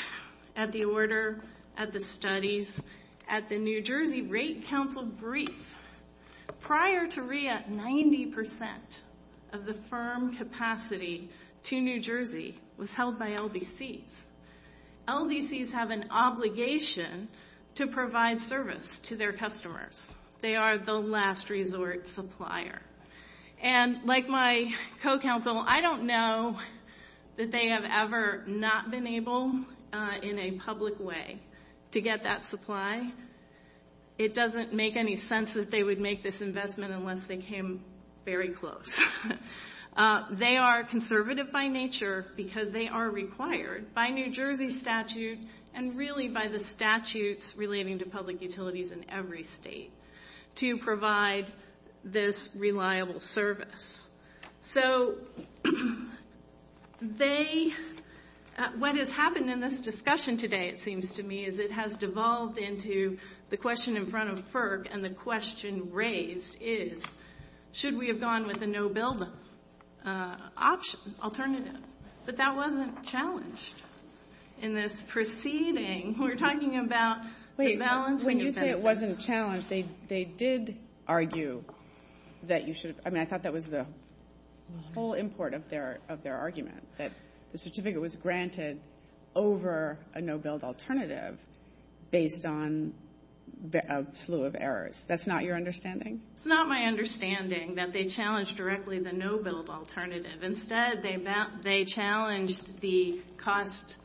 at the order, at the studies, at the New Jersey rate council brief, prior to REIA, 90% of the firm capacity to New Jersey was held by LDCs. LDCs have an obligation to provide service to their customers. They are the last resort supplier. And like my co-counsel, I don't know that they have ever not been able in a public way to get that supply. It doesn't make any sense that they would make this investment unless they came very close. They are conservative by nature because they are required by New Jersey statutes and really by the statutes relating to public utilities in every state to provide this reliable service. What has happened in this discussion today, it seems to me, is it has devolved into the question in front of FERC and the question raised is should we have gone with a no-build alternative? But that wasn't challenged in this proceeding. We're talking about the balancing effect. Wait, when you say it wasn't challenged, they did argue that you should have... I mean, I thought that was the whole import of their argument, that the certificate was granted over a no-build alternative based on a slew of errors. That's not your understanding? It's not my understanding that they challenged directly the no-build alternative. Instead, they challenged the cost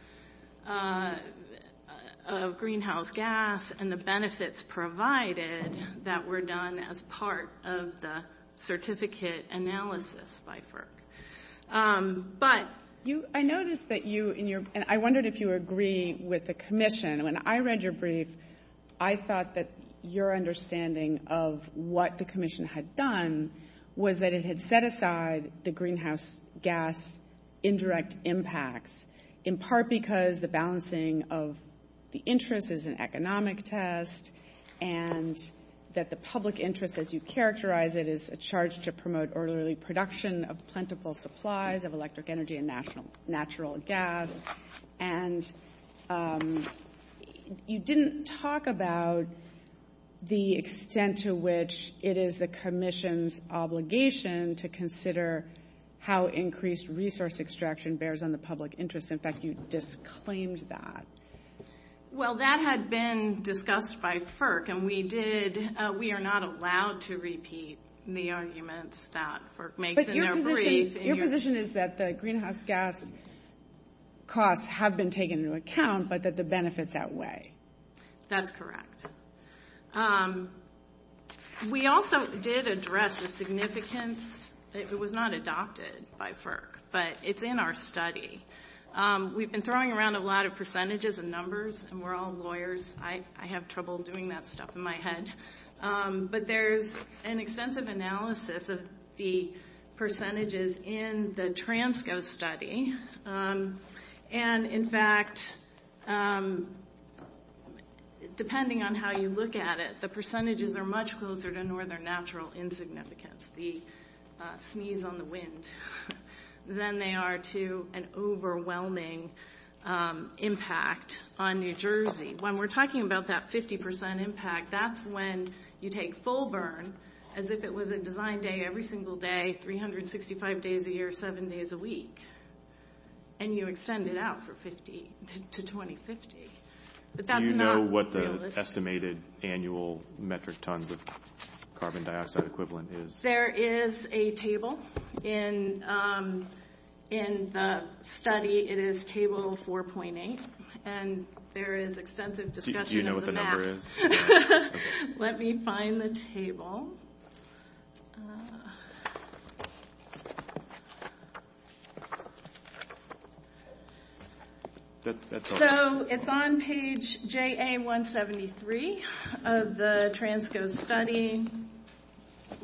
of greenhouse gas and the benefits provided that were done as part of the certificate analysis by FERC. I noticed that you, and I wondered if you agree with the commission. When I read your brief, I thought that your understanding of what the commission had done was that it had set aside the greenhouse gas indirect impacts, in part because the balancing of the interest is an economic test and that the public interest, as you characterize it, is a charge to promote orderly production of plentiful supplies of electric energy and natural gas. And you didn't talk about the extent to which it is the commission's obligation to consider how increased resource extraction bears on the public interest. In fact, you disclaimed that. Well, that had been discussed by FERC, and we are not allowed to repeat the arguments that FERC makes in our brief. Your position is that the greenhouse gas costs have been taken into account, but that the benefits outweigh. That's correct. We also did address the significance. It was not adopted by FERC, but it's in our study. We've been throwing around a lot of percentages and numbers, and we're all lawyers. I have trouble doing that stuff in my head. But there's an extensive analysis of the percentages in the TRANSCO study, and in fact, depending on how you look at it, the percentages are much closer to northern natural insignificance, the sneeze on the wind, than they are to an overwhelming impact on New Jersey. When we're talking about that 50 percent impact, that's when you take full burn as if it was a design day every single day, 365 days a year, seven days a week, and you extend it out to 2050. Do you know what the estimated annual metric tons of carbon dioxide equivalent is? There is a table in the study. It is table 4.8, and there is extensive discussion. Do you know what the number is? Let me find the table. So it's on page JA173 of the TRANSCO study.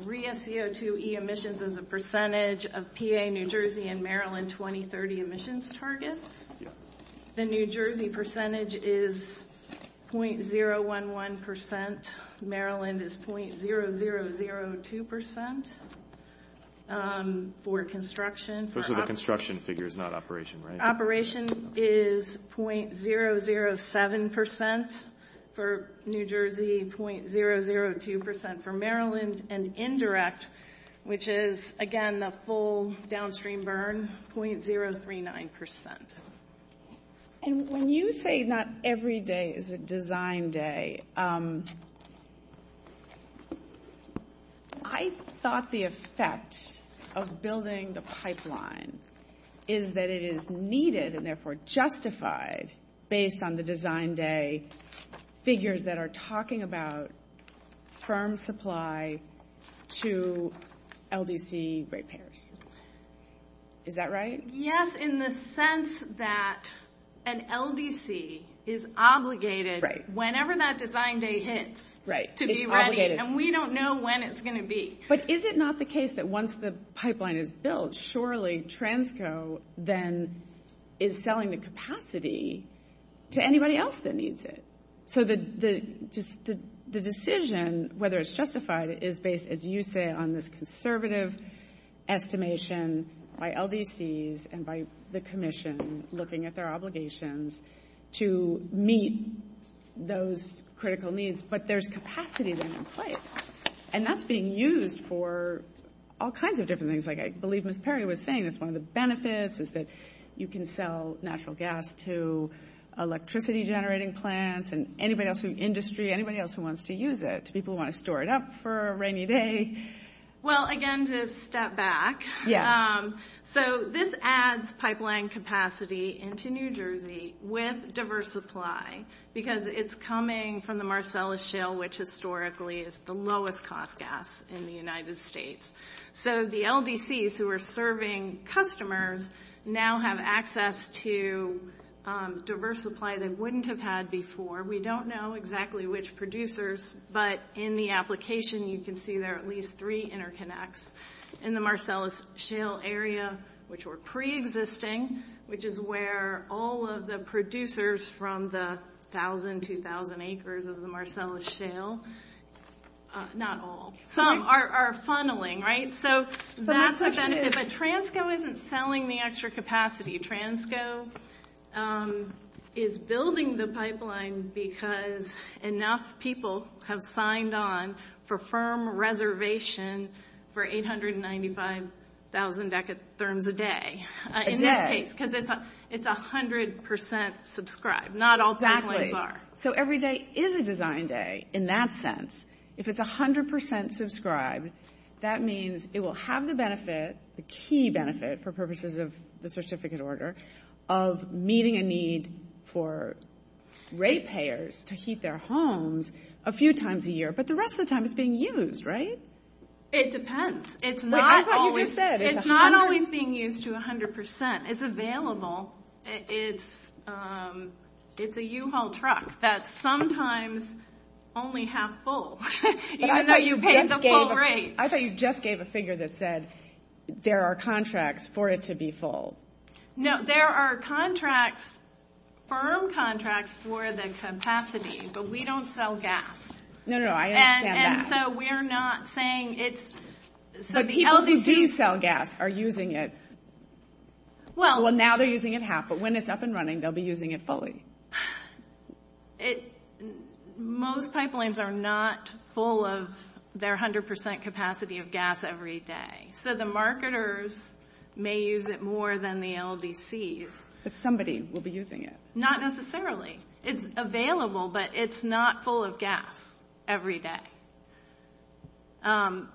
REIA CO2e emissions is a percentage of PA New Jersey and Maryland 2030 emissions targets. The New Jersey percentage is 0.011 percent. Maryland is 0.0002 percent for construction. Those are the construction figures, not operation, right? Construction operation is 0.007 percent for New Jersey, 0.002 percent for Maryland, and indirect, which is, again, the full downstream burn, 0.039 percent. And when you say not every day is a design day, I thought the effect of building the pipeline is that it is needed and therefore justified based on the design day figures that are talking about firm supply to LDC repairs. Is that right? Yes, in the sense that an LDC is obligated whenever that design day hits to be ready, and we don't know when it's going to be. But is it not the case that once the pipeline is built, surely TRANSCO then is selling the capacity to anybody else that needs it? So the decision whether it's justified is based, as you say, on this conservative estimation by LDCs and by the commission looking at their obligations to meet those critical needs. But there's capacity then in place, and that's being used for all kinds of different things. Like I believe Ms. Perry was saying, it's one of the benefits is that you can sell natural gas to electricity-generating plants and anybody else in the industry, anybody else who wants to use it, people who want to store it up for a rainy day. Well, again, to step back, so this adds pipeline capacity into New Jersey with diverse supply because it's coming from the Marcellus Shale, which historically is the lowest-cost gas in the United States. So the LDCs who are serving customers now have access to diverse supply that wouldn't have had before. We don't know exactly which producers, but in the application you can see there are at least three interconnects in the Marcellus Shale area, which were preexisting, which is where all of the producers from the 1,000, 2,000 acres of the Marcellus Shale, not all, are funneling, right? So if a transco isn't selling the extra capacity, transco is building the pipeline because enough people have signed on for firm reservation for 895,000 deck of therms a day. In this case, because it's 100% subscribed, not all pipelines are. So every day is a design day in that sense. If it's 100% subscribed, that means it will have the benefit, the key benefit for purposes of the certificate order, of meeting a need for ratepayers to keep their homes a few times a year, but the rest of the time it's being used, right? It depends. It's not always being used to 100%. It's available. The U-Haul is a U-Haul truck that sometimes only has full, even though you paid the full rate. I thought you just gave a figure that said there are contracts for it to be full. No, there are contracts, firm contracts for the capacity, but we don't sell gas. No, no, I understand that. And so we're not saying it's... So the LDCs sell gas, are using it. Well, now they're using it half, but when it's up and running, they'll be using it fully. Most pipelines are not full of their 100% capacity of gas every day. So the marketers may use it more than the LDCs. But somebody will be using it. Not necessarily. It's available, but it's not full of gas every day.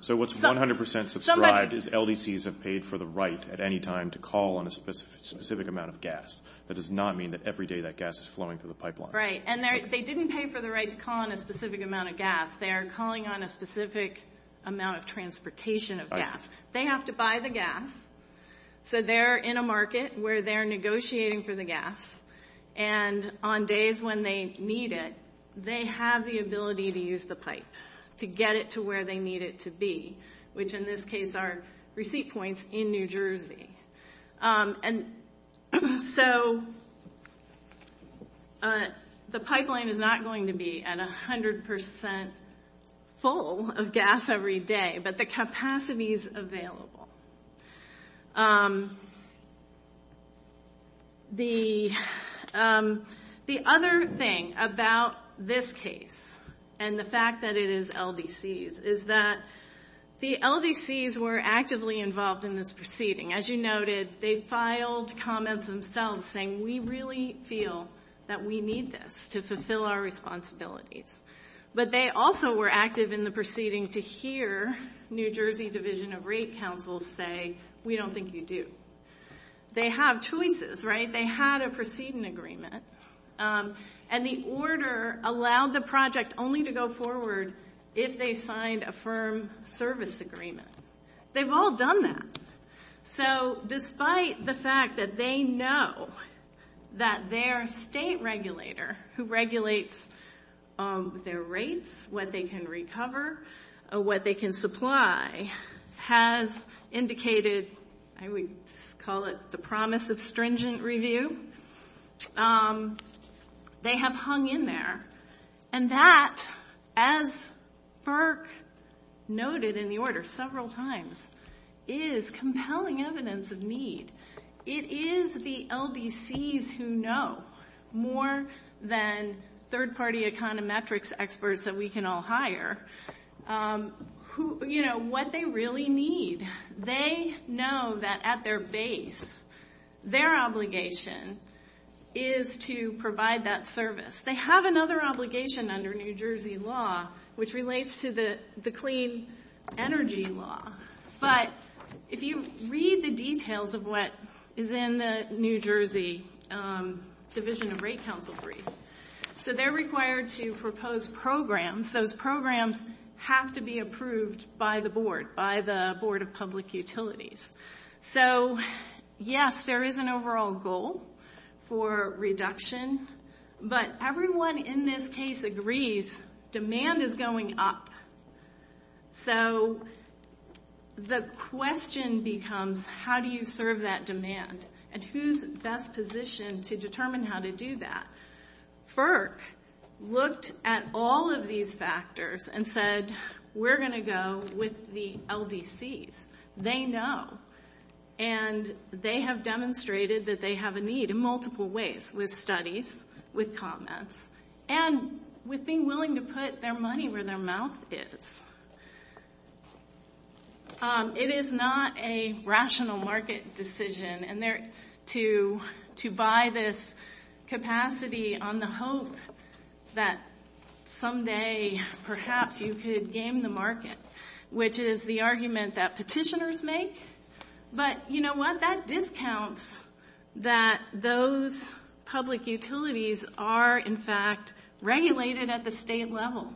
So what's 100% subscribed is LDCs have paid for the right at any time to call on a specific amount of gas. That does not mean that every day that gas is flowing through the pipeline. Right, and they didn't pay for the right to call on a specific amount of gas. They are calling on a specific amount of transportation of gas. They have to buy the gas, so they're in a market where they're negotiating for the gas, and on days when they need it, they have the ability to use the pipe to get it to where they need it to be, which in this case are receipt points in New Jersey. And so the pipeline is not going to be at 100% full of gas every day, but the capacity is available. The other thing about this case and the fact that it is LDCs is that the LDCs were actively involved in this proceeding. As you noted, they filed comments themselves saying, we really feel that we need this to fulfill our responsibilities. But they also were active in the proceeding to hear New Jersey Division of Rate Council say, we don't think you do. They have choices, right? They had a proceeding agreement, and the order allowed the project only to go forward if they signed a firm service agreement. They've all done that. So despite the fact that they know that their state regulator, who regulates their rates, what they can recover, what they can supply, has indicated, I would call it the promise of stringent review, they have hung in there. And that, as FERC noted in the order several times, is compelling evidence of need. It is the LDCs who know more than third-party econometrics experts that we can all hire, you know, what they really need. They know that at their base, their obligation is to provide that service. They have another obligation under New Jersey law, which relates to the clean energy law. But if you read the details of what is in the New Jersey Division of Rate Council brief, so they're required to propose programs. Those programs have to be approved by the board, by the Board of Public Utilities. So yes, there is an overall goal for reduction, but everyone in this case agrees demand is going up. So the question becomes, how do you serve that demand? And who's best positioned to determine how to do that? FERC looked at all of these factors and said, we're going to go with the LDCs. They know, and they have demonstrated that they have a need in multiple ways, with studies, with comments, and with being willing to put their money where their mouth is. It is not a rational market decision to buy this capacity on the hope that someday, perhaps, you could game the market, which is the argument that petitioners make. But you know what, that discounts that those public utilities are, in fact, regulated at the state level.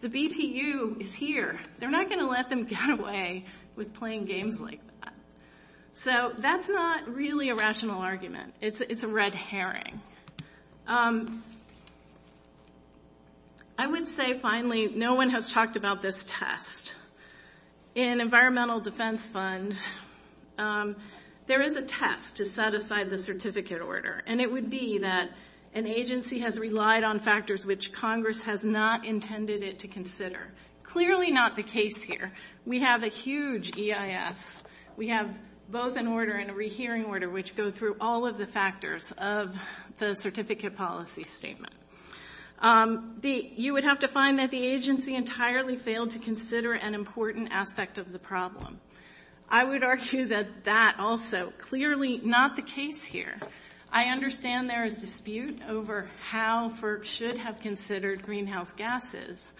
The VPU is here. They're not going to let them get away with playing games like that. So that's not really a rational argument. It's a red herring. I would say, finally, no one has talked about this test. In environmental defense funds, there is a test to set aside the certificate order, and it would be that an agency has relied on factors which Congress has not intended it to consider. Clearly not the case here. We have a huge EIS. We have both an order and a rehearing order, which go through all of the factors of the certificate policy statement. You would have to find that the agency entirely failed to consider an important aspect of the problem. I would argue that that also clearly not the case here. I understand there is dispute over how FERC should have considered greenhouse gases,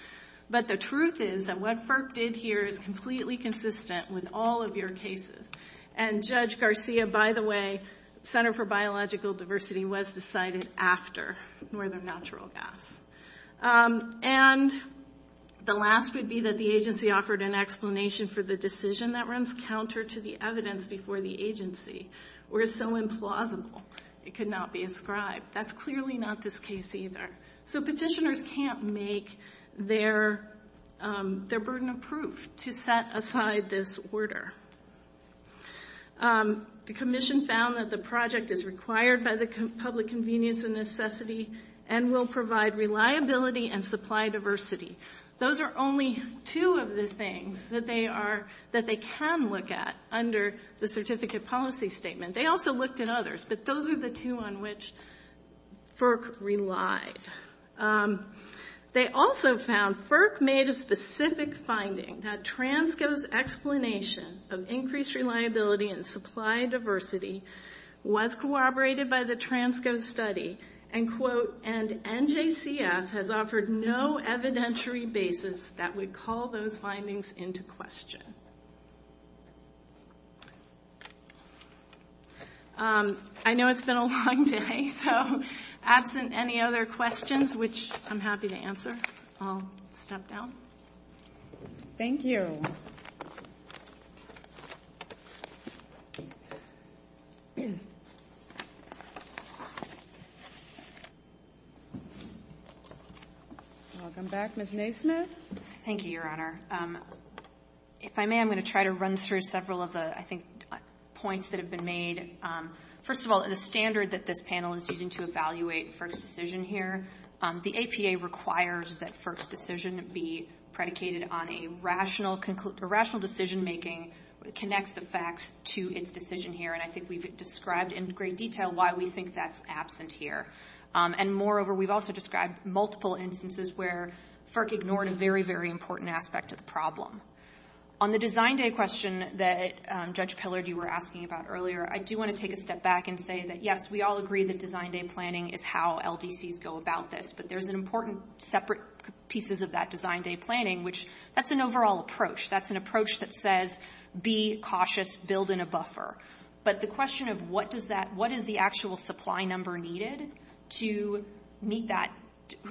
but the truth is that what FERC did here is completely consistent with all of your cases. And Judge Garcia, by the way, Center for Biological Diversity was decided after more than natural gas. And the last would be that the agency offered an explanation for the decision that runs counter to the evidence before the agency, where it's so implausible it could not be inscribed. That's clearly not this case either. So petitioners can't make their burden of proof to set aside this order. The commission found that the project is required by the public convenience and necessity and will provide reliability and supply diversity. Those are only two of the things that they can look at under the certificate policy statement. They also looked at others, but those are the two on which FERC relies. They also found FERC made a specific finding that TRANSCO's explanation of increased reliability and supply diversity was corroborated by the TRANSCO study and, quote, And NJCS has offered no evidentiary basis that would call those findings into question. I know it's been a long day, so absent any other questions, which I'm happy to answer, I'll step down. Thank you. Welcome back, Ms. Naismith. Thank you, Your Honor. If I may, I'm going to try to run through several of the, I think, points that have been made. First of all, the standard that this panel is using to evaluate FERC's decision here, the APA requires that FERC's decision be predicated on a rational decision-making that connects the facts to its decision here, and I think we've described in great detail why we think that's absent here. And, moreover, we've also described multiple instances where FERC ignored a very, very important aspect of the problem. On the design day question that Judge Pillard, you were asking about earlier, I do want to take a step back and say that, yes, we all agree that design day planning is how LDCs go about this, but there's an important separate pieces of that design day planning, which that's an overall approach. That's an approach that says be cautious, build in a buffer. But the question of what is the actual supply number needed to meet that,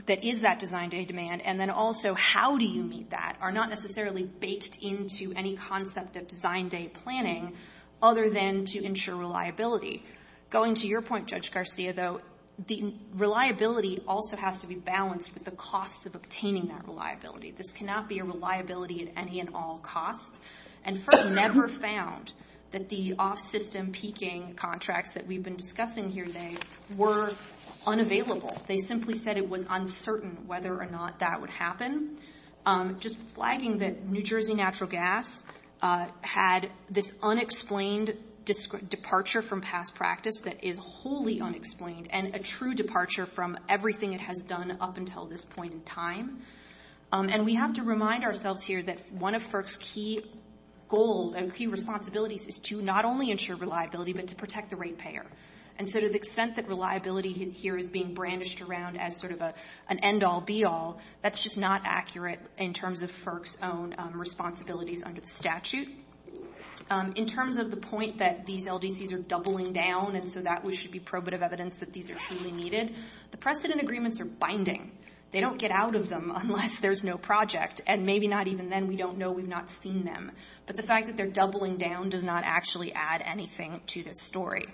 that is that design day demand, and then also how do you meet that are not necessarily baked into any concept of design day planning, other than to ensure reliability. Going to your point, Judge Garcia, though, the reliability also has to be balanced with the cost of obtaining that reliability. This cannot be a reliability at any and all cost, and FERC never found that the off-system peaking contracts that we've been discussing here today were unavailable. They simply said it was uncertain whether or not that would happen. Just flagging that New Jersey Natural Gas had this unexplained departure from past practice that is wholly unexplained and a true departure from everything it has done up until this point in time. And we have to remind ourselves here that one of FERC's key goals and key responsibilities is to not only ensure reliability but to protect the rate payer. And so to the extent that reliability here is being brandished around as sort of an end-all, be-all, that's just not accurate in terms of FERC's own responsibilities under the statute. In terms of the point that these LDCs are doubling down and so that should be probative evidence that these are truly needed, the precedent agreements are binding. They don't get out of them unless there's no project, and maybe not even then. We don't know. We've not seen them. But the fact that they're doubling down does not actually add anything to that story.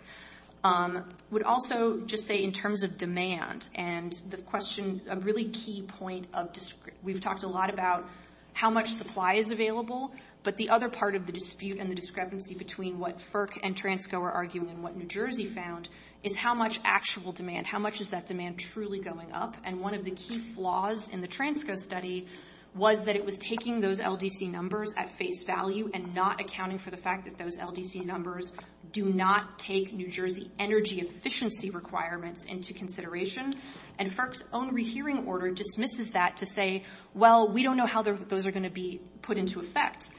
I would also just say in terms of demand, and the question, a really key point of this, we've talked a lot about how much supply is available, but the other part of the dispute and the discrepancy between what FERC and TRANSCO are arguing and what New Jersey found is how much actual demand, how much is that demand truly going up. And one of the key flaws in the TRANSCO study was that it was taking those LDC numbers at face value and not accounting for the fact that those LDC numbers do not take New Jersey energy efficiency requirements into consideration, and FERC's own rehearing order dismisses that to say, well, we don't know how those are going to be put into effect.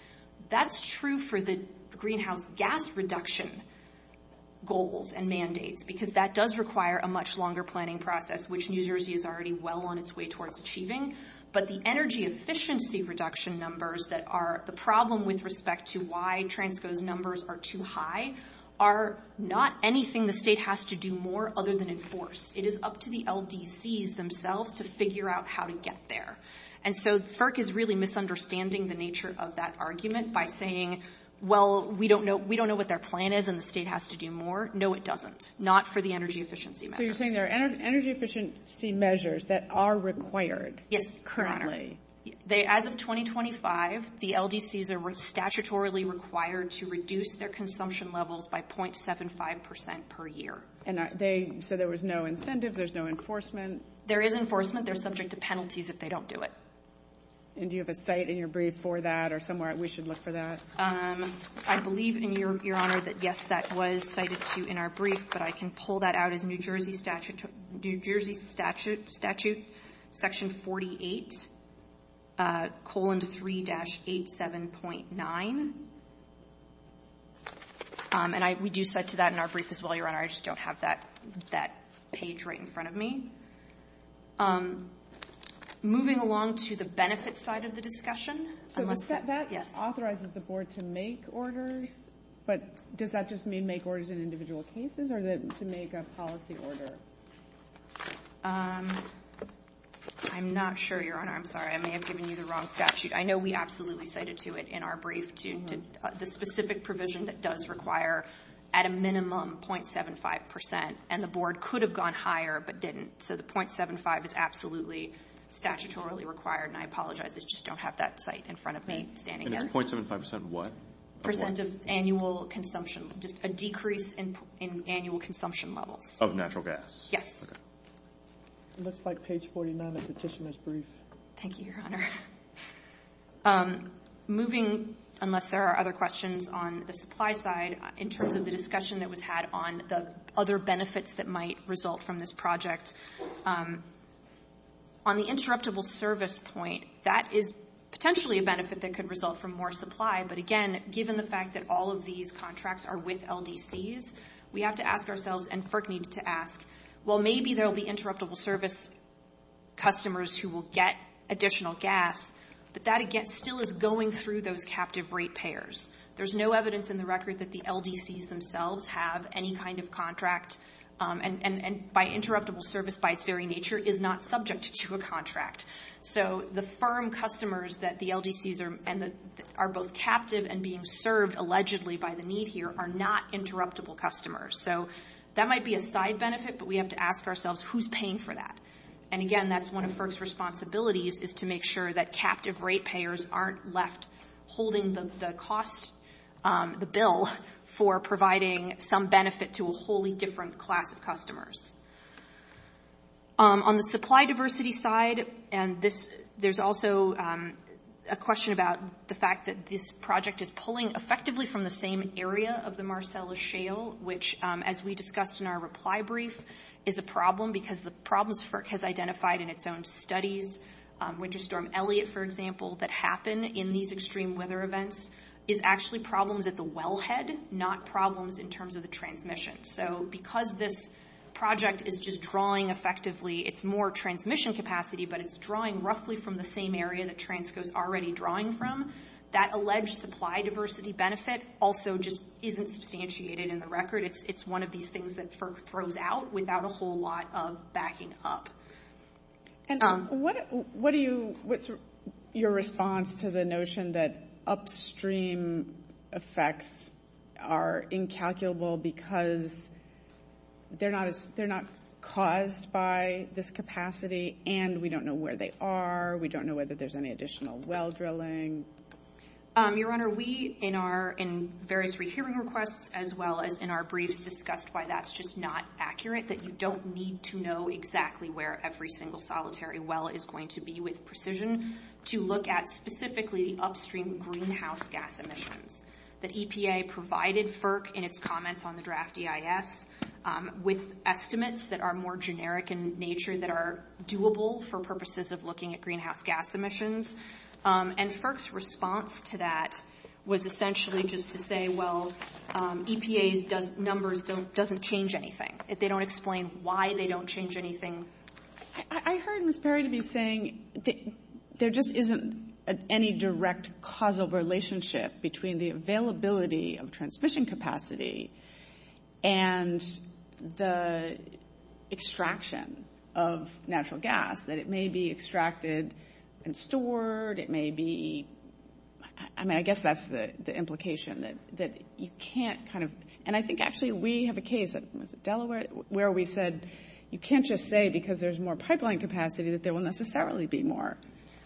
That's true for the greenhouse gas reduction goals and mandates because that does require a much longer planning process, which New Jersey is already well on its way towards achieving. But the energy efficiency reduction numbers that are the problem with respect to why TRANSCO's numbers are too high are not anything the state has to do more other than enforce. It is up to the LDCs themselves to figure out how to get there. And so FERC is really misunderstanding the nature of that argument by saying, well, we don't know what their plan is and the state has to do more. No, it doesn't, not for the energy efficiency matter. So you're saying there are energy efficiency measures that are required? Yes, currently. As of 2025, the LDCs are statutorily required to reduce their consumption levels by 0.75 percent per year. So there was no incentive, there's no enforcement? There is enforcement. They're subject to penalties if they don't do it. And do you have a site in your brief for that or somewhere we should look for that? I believe, Your Honor, that yes, that was cited to you in our brief, but I can pull that out of New Jersey Statute Section 48, colon 3-87.9. And we do cite to that in our brief as well, Your Honor. I just don't have that page right in front of me. Moving along to the benefits side of the discussion. So that authorizes the Board to make orders, but does that just mean make orders in individual cases or to make a policy order? I'm not sure, Your Honor. I'm sorry. I may have given you the wrong statute. I know we absolutely cited to it in our brief, the specific provision that does require at a minimum 0.75 percent, and the Board could have gone higher but didn't. So the 0.75 is absolutely statutorily required, and I apologize. I just don't have that site in front of me standing up. And it's 0.75 percent what? Percent of annual consumption, just a decrease in annual consumption levels. Of natural gas? Yes. Okay. It looks like page 49 of the petition is brief. Thank you, Your Honor. Moving, unless there are other questions on the supply side, in terms of the discussion that was had on the other benefits that might result from this project, on the interruptible service point, that is potentially a benefit that could result from more supply. But, again, given the fact that all of these contracts are with LDCs, we have to ask ourselves and FERC needs to ask, well, maybe there will be interruptible service customers who will get additional gas, but that, again, still is going through those captive rate payers. There's no evidence in the record that the LDCs themselves have any kind of contract, and by interruptible service by its very nature, is not subject to a contract. So the firm customers that the LDCs are both captive and being served allegedly by the need here are not interruptible customers. So that might be a side benefit, but we have to ask ourselves, who's paying for that? And, again, that's one of FERC's responsibilities, is to make sure that captive rate payers aren't left holding the costs, the bill, for providing some benefit to a wholly different class of customers. On the supply diversity side, and there's also a question about the fact that this project is pulling effectively from the same area of the Marcellus Shale, which, as we discussed in our reply brief, is a problem because the problems FERC has identified in its own studies, such as Winter Storm Elliot, for example, that happen in these extreme weather events is actually problems at the wellhead, not problems in terms of the transmission. So because this project is just drawing effectively, it's more transmission capacity, but it's drawing roughly from the same area that Transco's already drawing from, that alleged supply diversity benefit also just isn't substantiated in the record. It's one of these things that FERC throws out without a whole lot of backing up. What's your response to the notion that upstream effects are incalculable because they're not caused by this capacity and we don't know where they are, we don't know whether there's any additional well drilling? Your Honor, we, in our various rehearing requests, as well as in our briefs, discussed why that's just not accurate, that you don't need to know exactly where every single solitary well is going to be with precision to look at specifically upstream greenhouse gas emissions. The EPA provided FERC in its comments on the draft EIS with estimates that are more generic in nature that are doable for purposes of looking at greenhouse gas emissions, and FERC's response to that was essentially just to say, well, EPA's numbers doesn't change anything. They don't explain why they don't change anything. I heard Ms. Perry to be saying there just isn't any direct causal relationship between the availability of transmission capacity and the extraction of natural gas, that it may be extracted and stored, it may be... I mean, I guess that's the implication, that you can't kind of... And I think actually we have a case in Delaware where we said, you can't just say because there's more pipeline capacity that there will necessarily be more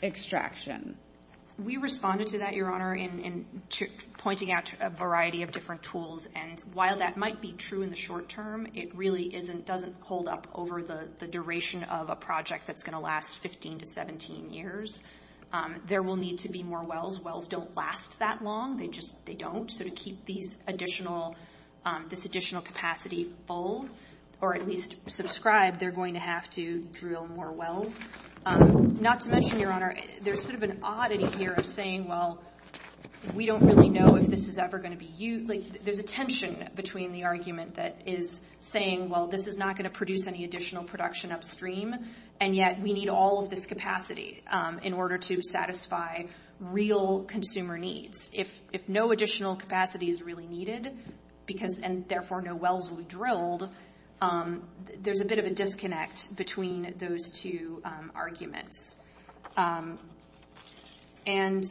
extraction. We responded to that, Your Honor, in pointing out a variety of different tools, and while that might be true in the short term, it really doesn't hold up over the duration of a project that's going to last 15 to 17 years. There will need to be more wells. Those wells don't last that long. They don't. So to keep this additional capacity full, or at least subscribe, they're going to have to drill more wells. Not to mention, Your Honor, there's sort of an oddity here of saying, well, we don't really know if this is ever going to be used. There's a tension between the argument that is saying, well, this is not going to produce any additional production upstream, and yet we need all of this capacity in order to satisfy real consumer needs. If no additional capacity is really needed, and therefore no wells will be drilled, there's a bit of a disconnect between those two arguments. And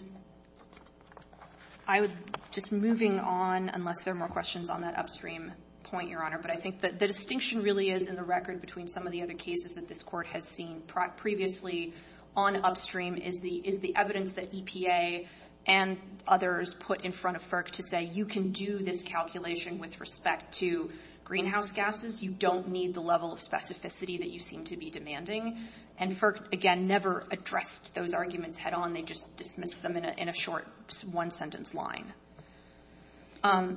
I was just moving on, unless there are more questions on that upstream point, Your Honor, but I think the distinction really is in the record between some of the other cases that this Court has seen previously on upstream is the evidence that EPA and others put in front of FERC to say, you can do this calculation with respect to greenhouse gases. You don't need the level of specificity that you seem to be demanding. And FERC, again, never addressed those arguments head on. They just dismissed them in a short one-sentence line. I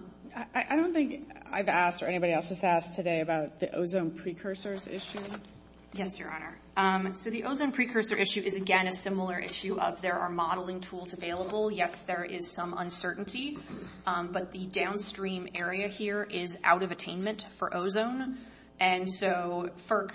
don't think I've asked or anybody else has asked today about the ozone precursor issue. Yes, Your Honor. So the ozone precursor issue is, again, a similar issue of there are modeling tools available. Yes, there is some uncertainty, but the downstream area here is out of attainment for ozone. And so FERC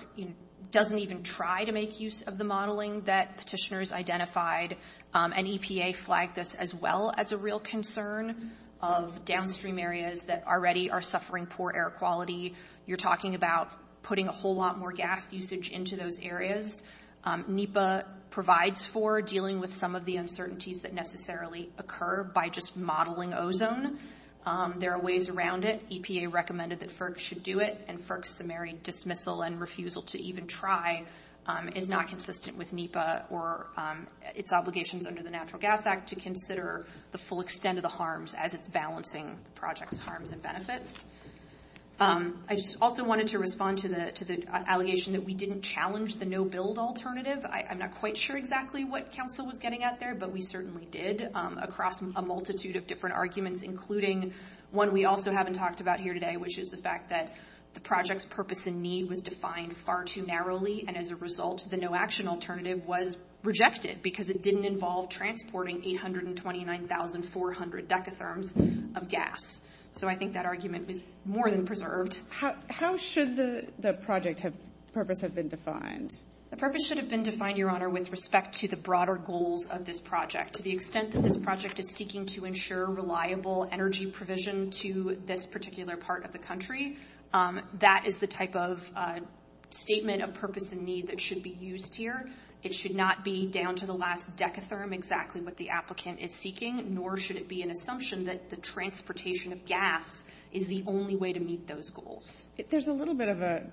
doesn't even try to make use of the modeling that petitioners identified. And EPA flagged this as well as a real concern of downstream areas that already are suffering poor air quality. You're talking about putting a whole lot more gas usage into those areas. NEPA provides for dealing with some of the uncertainties that necessarily occur by just modeling ozone. There are ways around it. EPA recommended that FERC should do it. And FERC's summary dismissal and refusal to even try is not consistent with NEPA or its obligations under the Natural Gas Act to consider the full extent of the harms as balancing projects' harms and benefits. I just also wanted to respond to the allegation that we didn't challenge the no-build alternative. I'm not quite sure exactly what counsel was getting at there, but we certainly did across a multitude of different arguments, including one we also haven't talked about here today, which is the fact that the project's purpose and need was defined far too narrowly, and as a result, the no-action alternative was rejected because it didn't involve transporting 829,400 decatherms of gas. So I think that argument is more than preserved. How should the project's purpose have been defined? The purpose should have been defined, Your Honor, with respect to the broader goals of this project. To the extent that this project is seeking to ensure reliable energy provision to this particular part of the country, that is the type of statement of purpose and need that should be used here. It should not be down to the last decatherm exactly what the applicant is seeking, nor should it be an assumption that the transportation of gas is the only way to meet those goals. There's a little bit of a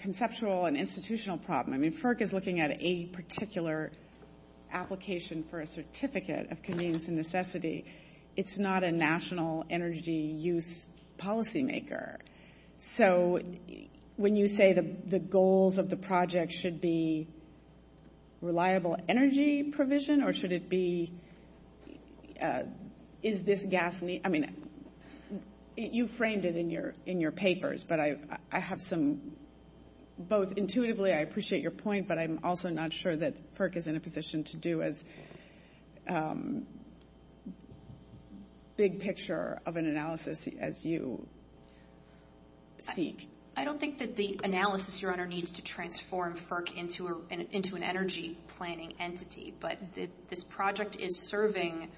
conceptual and institutional problem. FERC is looking at a particular application for a certificate of convenience and necessity. It's not a national energy use policymaker. So when you say the goals of the project should be reliable energy provision, or should it be, is this gas need? I mean, you framed it in your papers, but I have some both intuitively, I appreciate your point, but I'm also not sure that FERC is in a position to do as big picture of an analysis as you seek. I don't think that the analysis, Your Honor, needs to transform FERC into an energy planning entity, but this project is serving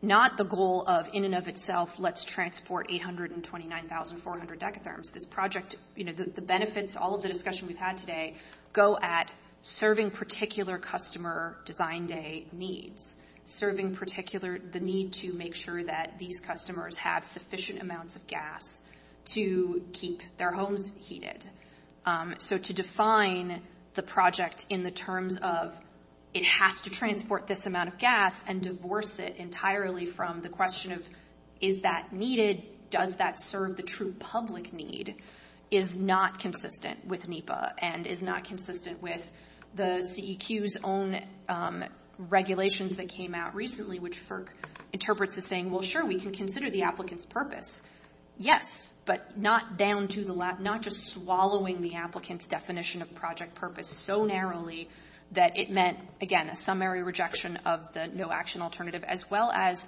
not the goal of, in and of itself, let's transport 829,400 decatherms. The benefits to all of the discussion we've had today go at serving particular customer design day needs, serving the need to make sure that these customers have sufficient amounts of gas to keep their homes heated. So to define the project in the terms of it has to transport this amount of gas and divorce it entirely from the question of is that needed? Does that serve the true public need is not consistent with NEPA and is not consistent with the CEQ's own regulations that came out recently, which FERC interprets as saying, well, sure, we can consider the applicant's purpose. Yes, but not down to the last, not just swallowing the applicant's definition of project purpose so narrowly that it meant, again, a summary rejection of the no action alternative, as well as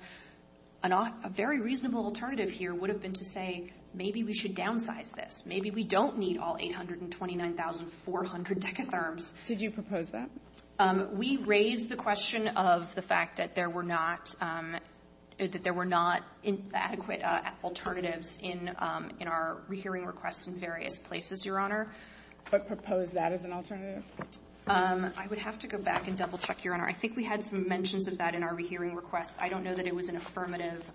a very reasonable alternative here would have been to say maybe we should downsize this. Maybe we don't need all 829,400 decatherms. Did you propose that? We raised the question of the fact that there were not adequate alternatives in our hearing requests in various places, Your Honor. But propose that as an alternative? I would have to go back and double check, Your Honor. I think we had some mentions of that in our hearing request. I don't know that it was an affirmative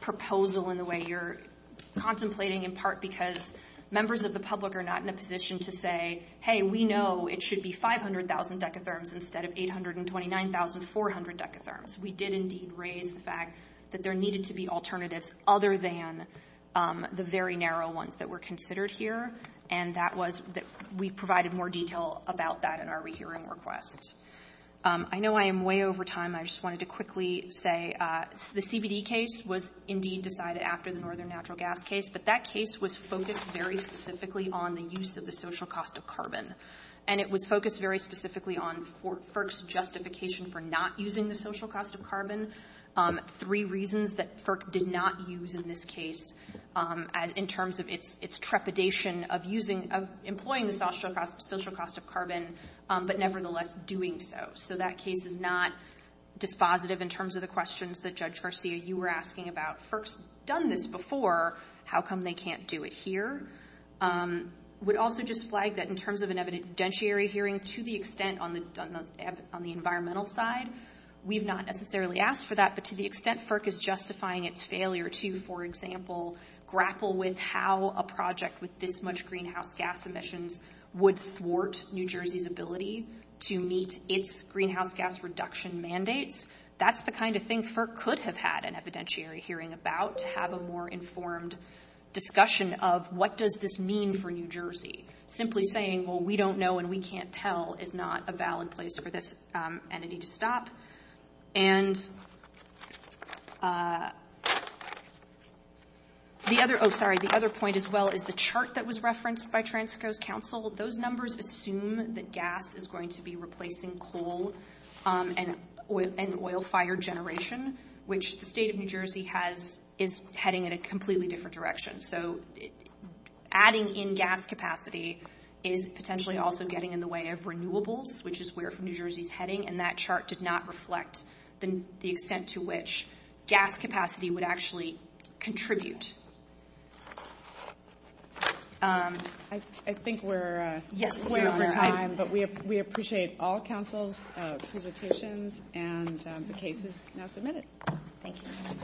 proposal in the way you're contemplating, in part because members of the public are not in a position to say, hey, we know it should be 500,000 decatherms instead of 829,400 decatherms. We did indeed raise the fact that there needed to be alternatives other than the very narrow ones that were considered here, and that was that we provided more detail about that in our rehearing request. I know I am way over time. I just wanted to quickly say the CBD case was indeed decided after the Northern Natural Gas case, but that case was focused very specifically on the use of the social cost of carbon, and it was focused very specifically on FERC's justification for not using the social cost of carbon. Three reasons that FERC did not use in this case in terms of its trepidation of employing the social cost of carbon, but nevertheless doing so. So that case is not dispositive in terms of the questions that, Judge Garcia, you were asking about FERC's done this before. How come they can't do it here? I would also just flag that in terms of an evidentiary hearing, to the extent on the environmental side, we have not necessarily asked for that, but to the extent FERC is justifying its failure to, for example, grapple with how a project with this much greenhouse gas emissions would thwart New Jersey's ability to meet its greenhouse gas reduction mandates, that's the kind of thing FERC could have had an evidentiary hearing about, to have a more informed discussion of what does this mean for New Jersey. Simply saying, well, we don't know and we can't tell is not a valid place for this entity to stop. And the other point as well is the chart that was referenced by Trans-Coast Council. Those numbers assume that gas is going to be replacing coal and oil fire generation, which the state of New Jersey is heading in a completely different direction. So adding in gas capacity is potentially also getting in the way of renewables, which is where New Jersey is heading, and that chart did not reflect the extent to which gas capacity would actually contribute. I think we're out of time, but we appreciate all counsel's presentations, and the case is now submitted. Thank you.